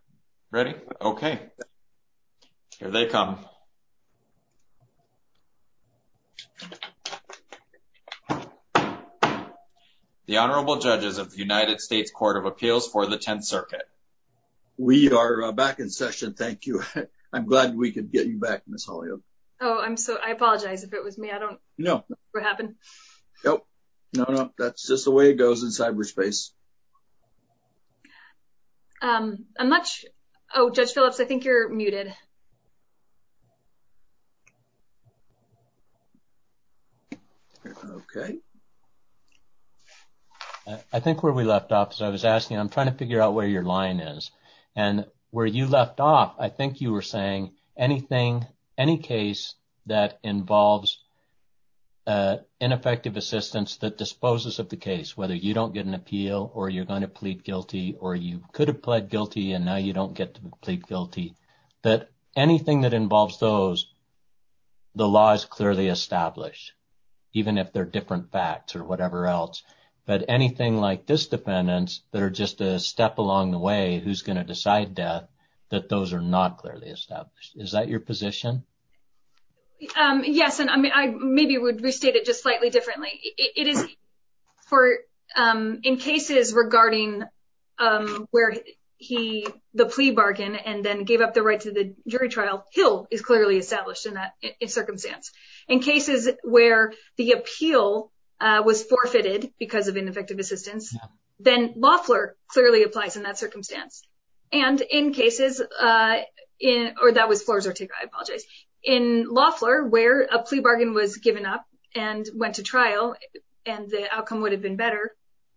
Ready? Okay. Here they come. The Honorable Judges of the United States Court of Appeals for the Tenth Circuit. We are back in session. Thank you. I'm glad we could get you back, Ms. Holyoak. Oh, I'm sorry. I apologize if it was me. I don't know what happened. No, no, no. That's just the way it goes in cyberspace. I'm not sure. Oh, Judge Phillips, I think you're muted. Okay. I think where we left off, as I was asking, I'm trying to figure out where your line is, and where you left off, I think you were saying anything, any case that involves ineffective assistance that disposes of the case, whether you don't get an appeal, or you're going to plead guilty, or you could have pled guilty, and now you don't get to plead guilty. But anything that involves those, the law is clearly established, even if they're different facts or whatever else. But anything like this defendant that are just a step along the way, who's going to decide that, that those are not clearly established. Is that your position? Yes, and I mean, I maybe would restate it just slightly differently. In cases regarding where the plea bargain and then gave up the right to the jury trial, Hill is clearly established in that circumstance. In cases where the appeal was forfeited because of ineffective assistance, then Loeffler clearly applies in that circumstance. And in cases, or that was for Zortico, I apologize. In Loeffler, where a plea bargain was given up and went to trial, and the outcome would have been better,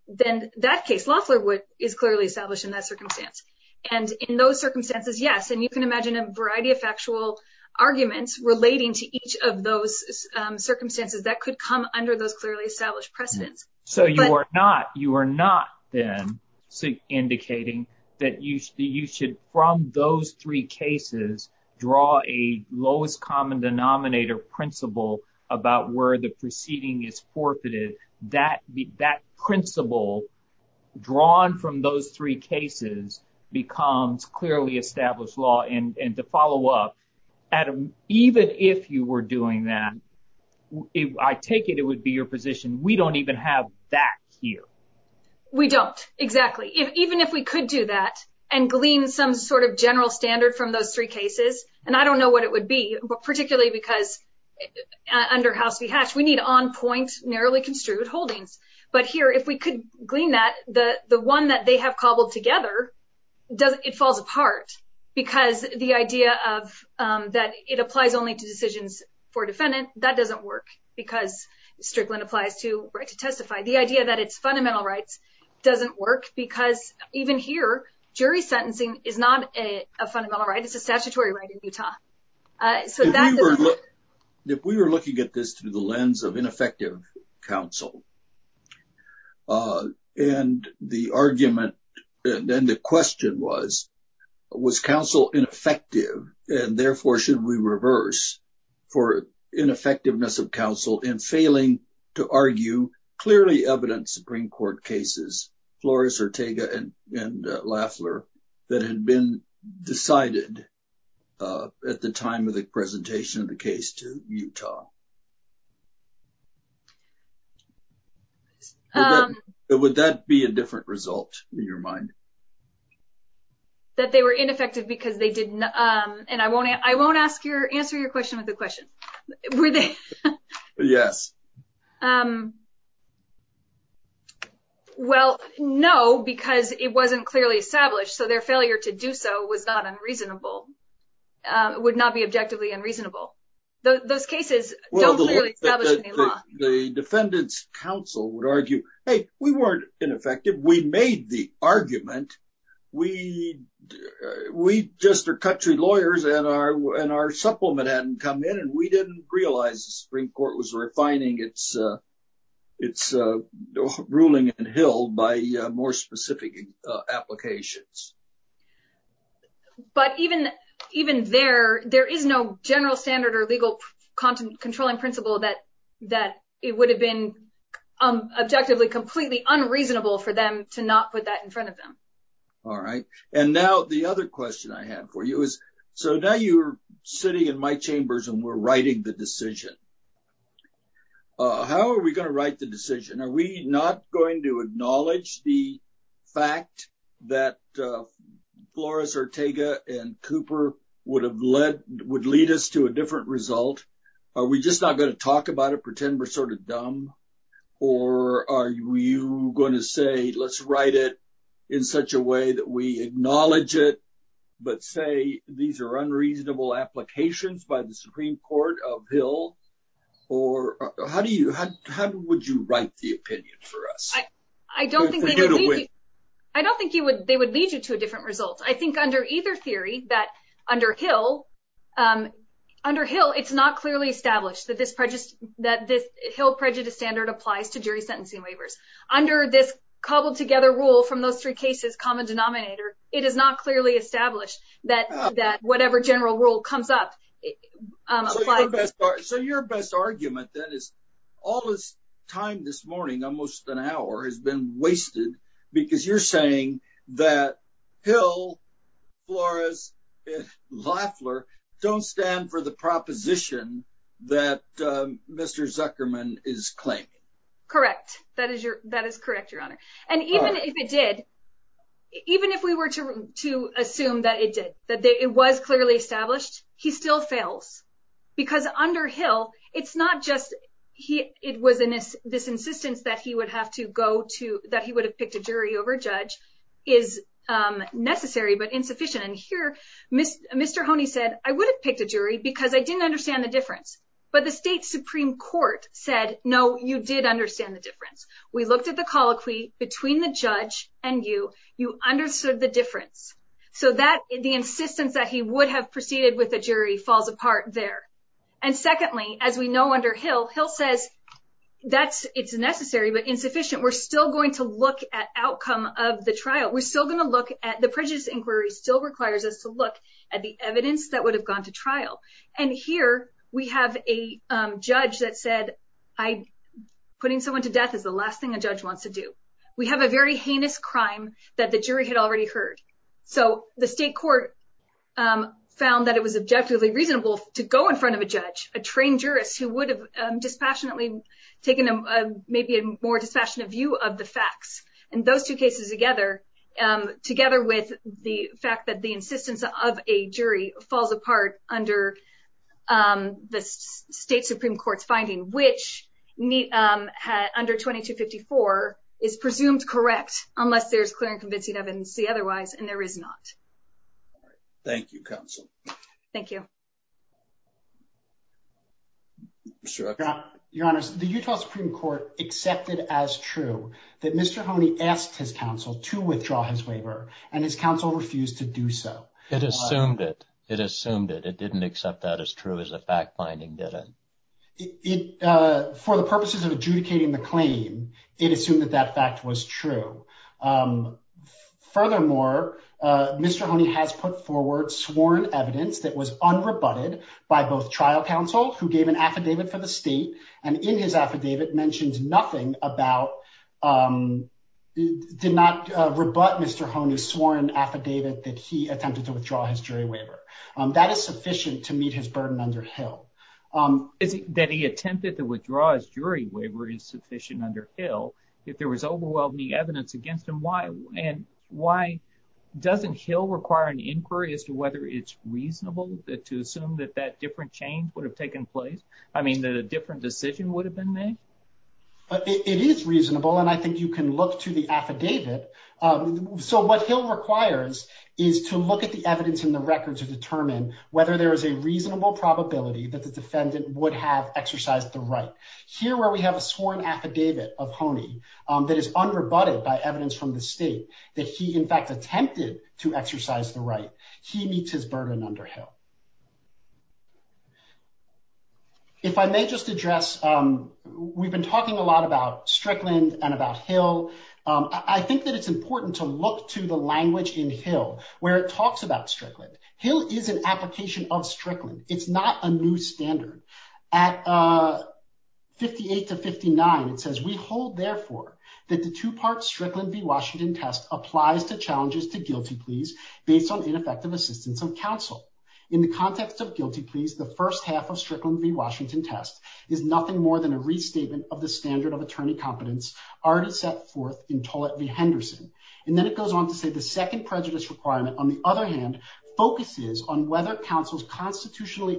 then that case, Loeffler is clearly established in that circumstance. And in those circumstances, yes, and you can imagine a variety of factual arguments relating to each of those circumstances that could come under those clearly established precedents. So you are not then indicating that you should, from those three cases, draw a lowest common denominator principle about where the proceeding is forfeited. That principle drawn from those three cases becomes clearly established law. And to follow up, Adam, even if you were doing that, I take it it would be your position, we don't even have that here. We don't, exactly. Even if we could do that and glean some sort of general standard from those three cases, and I don't know what it would be, particularly because under House v. Hatch, we need on point, narrowly construed holdings. But here, if we could glean that, the one that they have cobbled together, it falls apart. Because the idea that it applies only to decisions for defendants, that doesn't work. Because Strickland applies to right to testify. The idea that it's fundamental rights doesn't work, because even here, jury sentencing is not a fundamental right, it's a statutory right in Utah. If we were looking at this through the lens of ineffective counsel, and the argument, then the question was, was counsel ineffective, and therefore should we reverse for ineffectiveness of counsel in failing to argue clearly evident Supreme Court cases, Flores, Ortega, and Lafler, that had been decided at the time of the presentation of the case to Utah? Would that be a different result, in your mind? That they were ineffective because they did not, and I won't answer your question with a question. Were they? Yes. Well, no, because it wasn't clearly established, so their failure to do so was not unreasonable, would not be objectively unreasonable. Those cases don't really establish the law. The defendant's counsel would argue, hey, we weren't ineffective, we made the argument, we just are country lawyers, and our supplement hadn't come in, and we didn't realize the Supreme Court was refining its ruling in Hill by more specific applications. But even there, there is no general standard or legal controlling principle that it would have been objectively completely unreasonable for them to not put that in front of them. All right. And now the other question I have for you is, so now you're sitting in my chambers and we're writing the decision. How are we going to write the decision? Are we not going to acknowledge the fact that Flores Ortega and Cooper would lead us to a different result? Are we just not going to talk about it, pretend we're sort of dumb? Or are you going to say, let's write it in such a way that we acknowledge it, but say these are unreasonable applications by the Supreme Court of Hill? Or how would you write the opinion for us? I don't think they would lead you to a different result. I think under either theory, that under Hill, it's not clearly established that this Hill prejudice standard applies to jury sentencing waivers. Under this cobbled together rule from those three cases, common denominator, it is not clearly established that whatever general rule comes up applies. So your best argument, that is, all this time this morning, almost an hour, has been wasted because you're saying that Hill, Flores, and Loeffler don't stand for the proposition that Mr. Zuckerman is claiming. Correct. That is correct, Your Honor. And even if it did, even if we were to assume that it did, that it was clearly established, he still fails. Because under Hill, it's not just, it was this insistence that he would have to go to, that he would have picked a jury over a judge, is necessary but insufficient. And here, Mr. Honey said, I would have picked a jury because I didn't understand the difference. But the state Supreme Court said, no, you did understand the difference. We looked at the colloquy between the judge and you. You understood the difference. So that, the insistence that he would have proceeded with a jury falls apart there. And secondly, as we know under Hill, Hill says, that's, it's necessary but insufficient. We're still going to look at outcome of the trial. We're still going to look at, the prejudice inquiry still requires us to look at the evidence that would have gone to trial. And here, we have a judge that said, putting someone to death is the last thing a judge wants to do. We have a very heinous crime that the jury had already heard. So the state court found that it was objectively reasonable to go in front of a judge, a trained jurist, who would have dispassionately taken maybe a more dispassionate view of the facts. And those two cases together, together with the fact that the insistence of a jury falls apart under the state Supreme Court's finding, which under 2254 is presumed correct unless there's clear and convincing evidence to the otherwise, and there is not. Thank you, counsel. Thank you. Your Honor, the Utah Supreme Court accepted as true that Mr. Hone asked his counsel to withdraw his waiver, and his counsel refused to do so. It assumed it. It assumed it. It didn't accept that as true as the fact finding did. For the purposes of adjudicating the claim, it assumed that that fact was true. Furthermore, Mr. Hone has put forward sworn evidence that was unrebutted by both trial counsel, who gave an affidavit to the state, and in his affidavit mentions nothing about, did not rebut Mr. Hone's sworn affidavit that he attempted to withdraw his jury waiver. That is sufficient to meet his burden under Hill. That he attempted to withdraw his jury waiver is sufficient under Hill. If there was overwhelming evidence against him, why doesn't Hill require an inquiry as to whether it's reasonable to assume that that different change would have taken place? I mean, that a different decision would have been made? It is reasonable, and I think you can look to the affidavit. So what Hill requires is to look at the evidence in the record to determine whether there is a reasonable probability that the defendant would have exercised the right. Here where we have a sworn affidavit of Hone that is unrebutted by evidence from the state that he, in fact, attempted to exercise the right, he meets his burden under Hill. If I may just address, we've been talking a lot about Strickland and about Hill. I think that it's important to look to the language in Hill where it talks about Strickland. Hill is an application of Strickland. It's not a new standard. At 58 to 59, it says, we hold, therefore, that the two-part Strickland v. Washington test applies the challenges to guilty pleas based on ineffective assistance of counsel. In the context of guilty pleas, the first half of Strickland v. Washington test is nothing more than a restatement of the standard of attorney competence already set forth in Tollett v. Henderson. And then it goes on to say the second prejudice requirement, on the other hand, focuses on whether counsel's constitutionally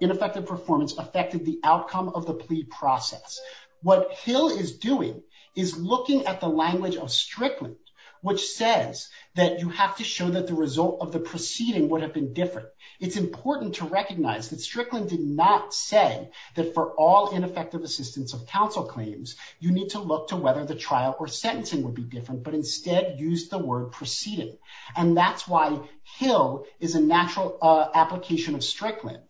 ineffective performance affected the outcome of the plea process. What Hill is doing is looking at the language of Strickland, which says that you have to show that the result of the proceeding would have been different. It's important to recognize that Strickland did not say that for all ineffective assistance of counsel claims, you need to look to whether the trial or sentencing would be different, but instead use the word proceeding. And that's why Hill is a natural application of Strickland.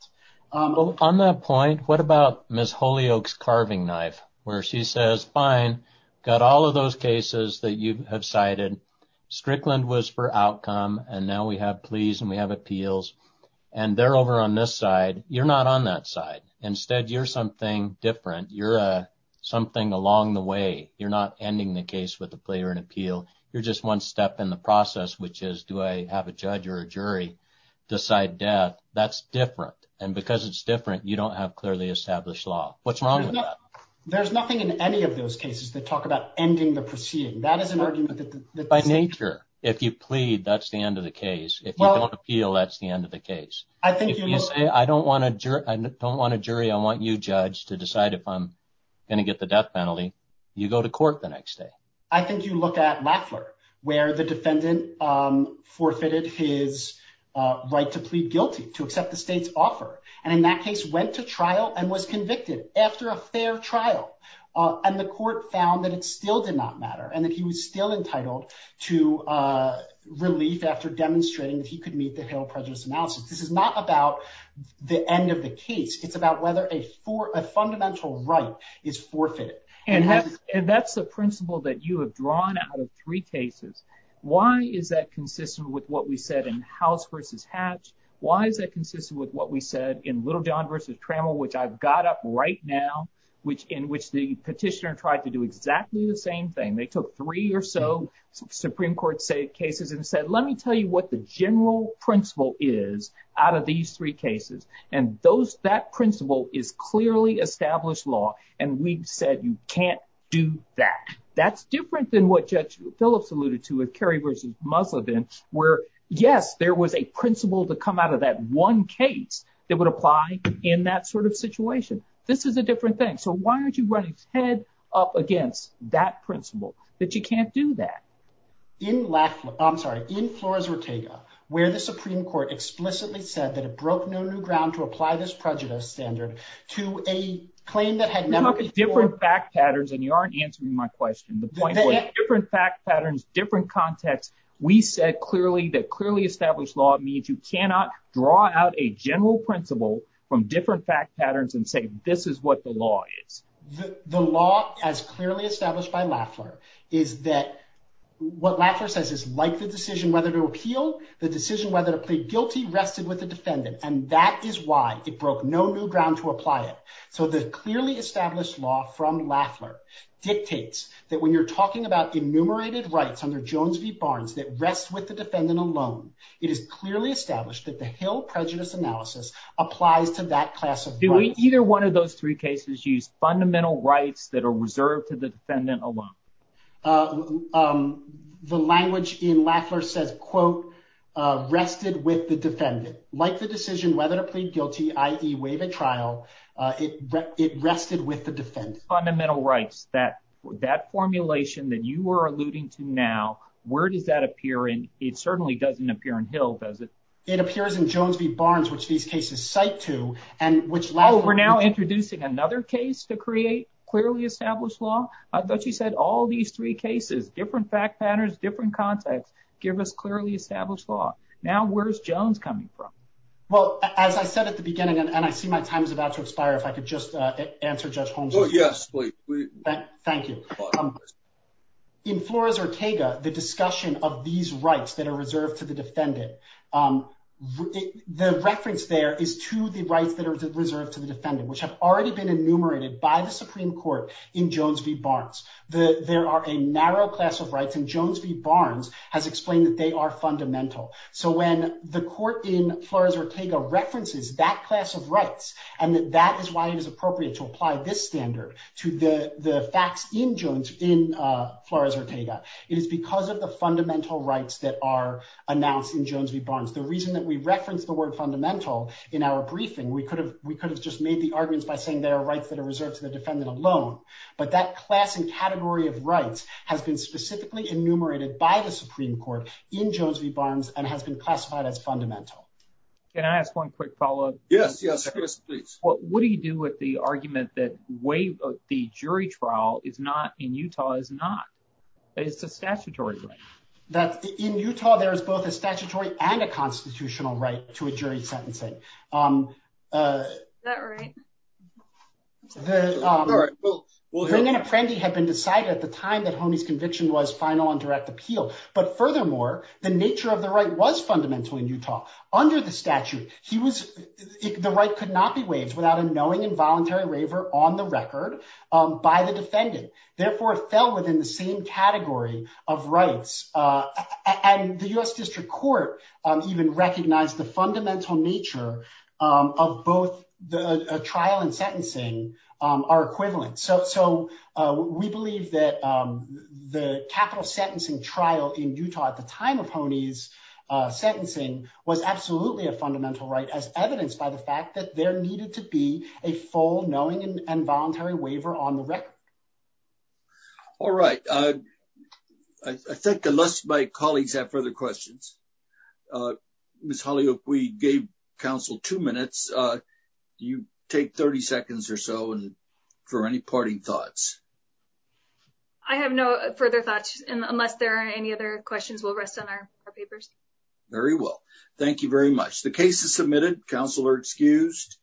On that point, what about Ms. Holyoake's carving knife, where she says, fine, got all of those cases that you have cited. Strickland was for outcome, and now we have pleas and we have appeals, and they're over on this side. You're not on that side. Instead, you're something different. You're something along the way. You're not ending the case with a plea or an appeal. You're just one step in the process, which is, do I have a judge or a jury decide death? That's different. And because it's different, you don't have clearly established law. What's wrong with that? There's nothing in any of those cases that talk about ending the proceeding. That is an argument that by nature, if you plead, that's the end of the case. If you don't appeal, that's the end of the case. I don't want a jury. I want you, Judge, to decide if I'm going to get the death penalty. You go to court the next day. I think you look at Rattler, where the defendant forfeited his right to plead guilty, to accept the state's offer. And in that case, went to trial and was convicted after a fair trial, and the court found that it still did not matter, and that he was still entitled to relief after demonstrating that he could meet the federal prejudice analysis. This is not about the end of the case. It's about whether a fundamental right is forfeited. And that's the principle that you have drawn out of three cases. Why is that consistent with what we said in House v. Hatch? Why is that consistent with what we said in Littlejohn v. Trammell, which I've got up right now, in which the petitioner tried to do exactly the same thing? They took three or so Supreme Court cases and said, let me tell you what the general principle is out of these three cases. And that principle is clearly established law, and we said you can't do that. That's different than what Judge Phillips alluded to with Kerry v. Muggleton, where, yes, there was a principle to come out of that one case that would apply in that sort of situation. This is a different thing. So why aren't you running head up against that principle, that you can't do that? I'm sorry. In Flores v. Ortega, where the Supreme Court explicitly said that it broke no new ground to apply this prejudice standard to a claim that had never— We talked about different fact patterns, and you aren't answering my question. The point was different fact patterns, different context. We said clearly that clearly established law means you cannot draw out a general principle from different fact patterns and say this is what the law is. The law, as clearly established by Lassler, is that what Lassler says is like the decision whether to appeal, the decision whether to plead guilty rested with the defendant, and that is why it broke no new ground to apply it. So the clearly established law from Lassler dictates that when you're talking about enumerated rights under Jones v. Barnes that rest with the defendant alone, it is clearly established that the Hill prejudice analysis applies to that class of— Did either one of those three cases use fundamental rights that are reserved to the defendant alone? The language in Lassler says, quote, rested with the defendant. Like the decision whether to plead guilty, i.e. waive a trial, it rested with the defendant. Fundamental rights, that formulation that you are alluding to now, where does that appear in—it certainly doesn't appear in Hill, does it? It appears in Jones v. Barnes, which these cases cite to, and which Lassler— Oh, we're now introducing another case to create clearly established law? I thought you said all these three cases, different fact patterns, different concepts, give us clearly established law. Now where's Jones coming from? Well, as I said at the beginning, and I see my time is about to expire, if I could just answer Judge Holmes. Oh, yes, please. Thank you. In Flores-Ortega, the discussion of these rights that are reserved to the defendant, the reference there is to the rights that are reserved to the defendant, which have already been enumerated by the Supreme Court in Jones v. Barnes. There are a narrow class of rights, and Jones v. Barnes has explained that they are fundamental. So when the court in Flores-Ortega references that class of rights, and that is why it is appropriate to apply this standard to the facts in Jones in Flores-Ortega, it is because of the fundamental rights that are announced in Jones v. Barnes. Can I ask one quick follow-up? Yes, yes, please. What do you do with the argument that the jury trial in Utah is not? It's a statutory right. In Utah, there is both a statutory and a constitutional right to a jury sentencing. Is that right? Sure. Ring and Apprendi had been decided at the time that Homey's conviction was final and direct appeal. But furthermore, the nature of the right was fundamental in Utah. Under the statute, the right could not be waived without a knowing and voluntary waiver on the record by the defendant. Therefore, it fell within the same category of rights. And the U.S. District Court even recognized the fundamental nature of both the trial and sentencing are equivalent. So we believe that the capital sentencing trial in Utah at the time of Homey's sentencing was absolutely a fundamental right as evidenced by the fact that there needed to be a full knowing and voluntary waiver on the record. All right. I think unless my colleagues have further questions. Ms. Holly, if we gave counsel two minutes, you take 30 seconds or so for any parting thoughts. I have no further thoughts unless there are any other questions. We'll rest on our papers. Very well. Thank you very much. The case is submitted. Counsel are excused.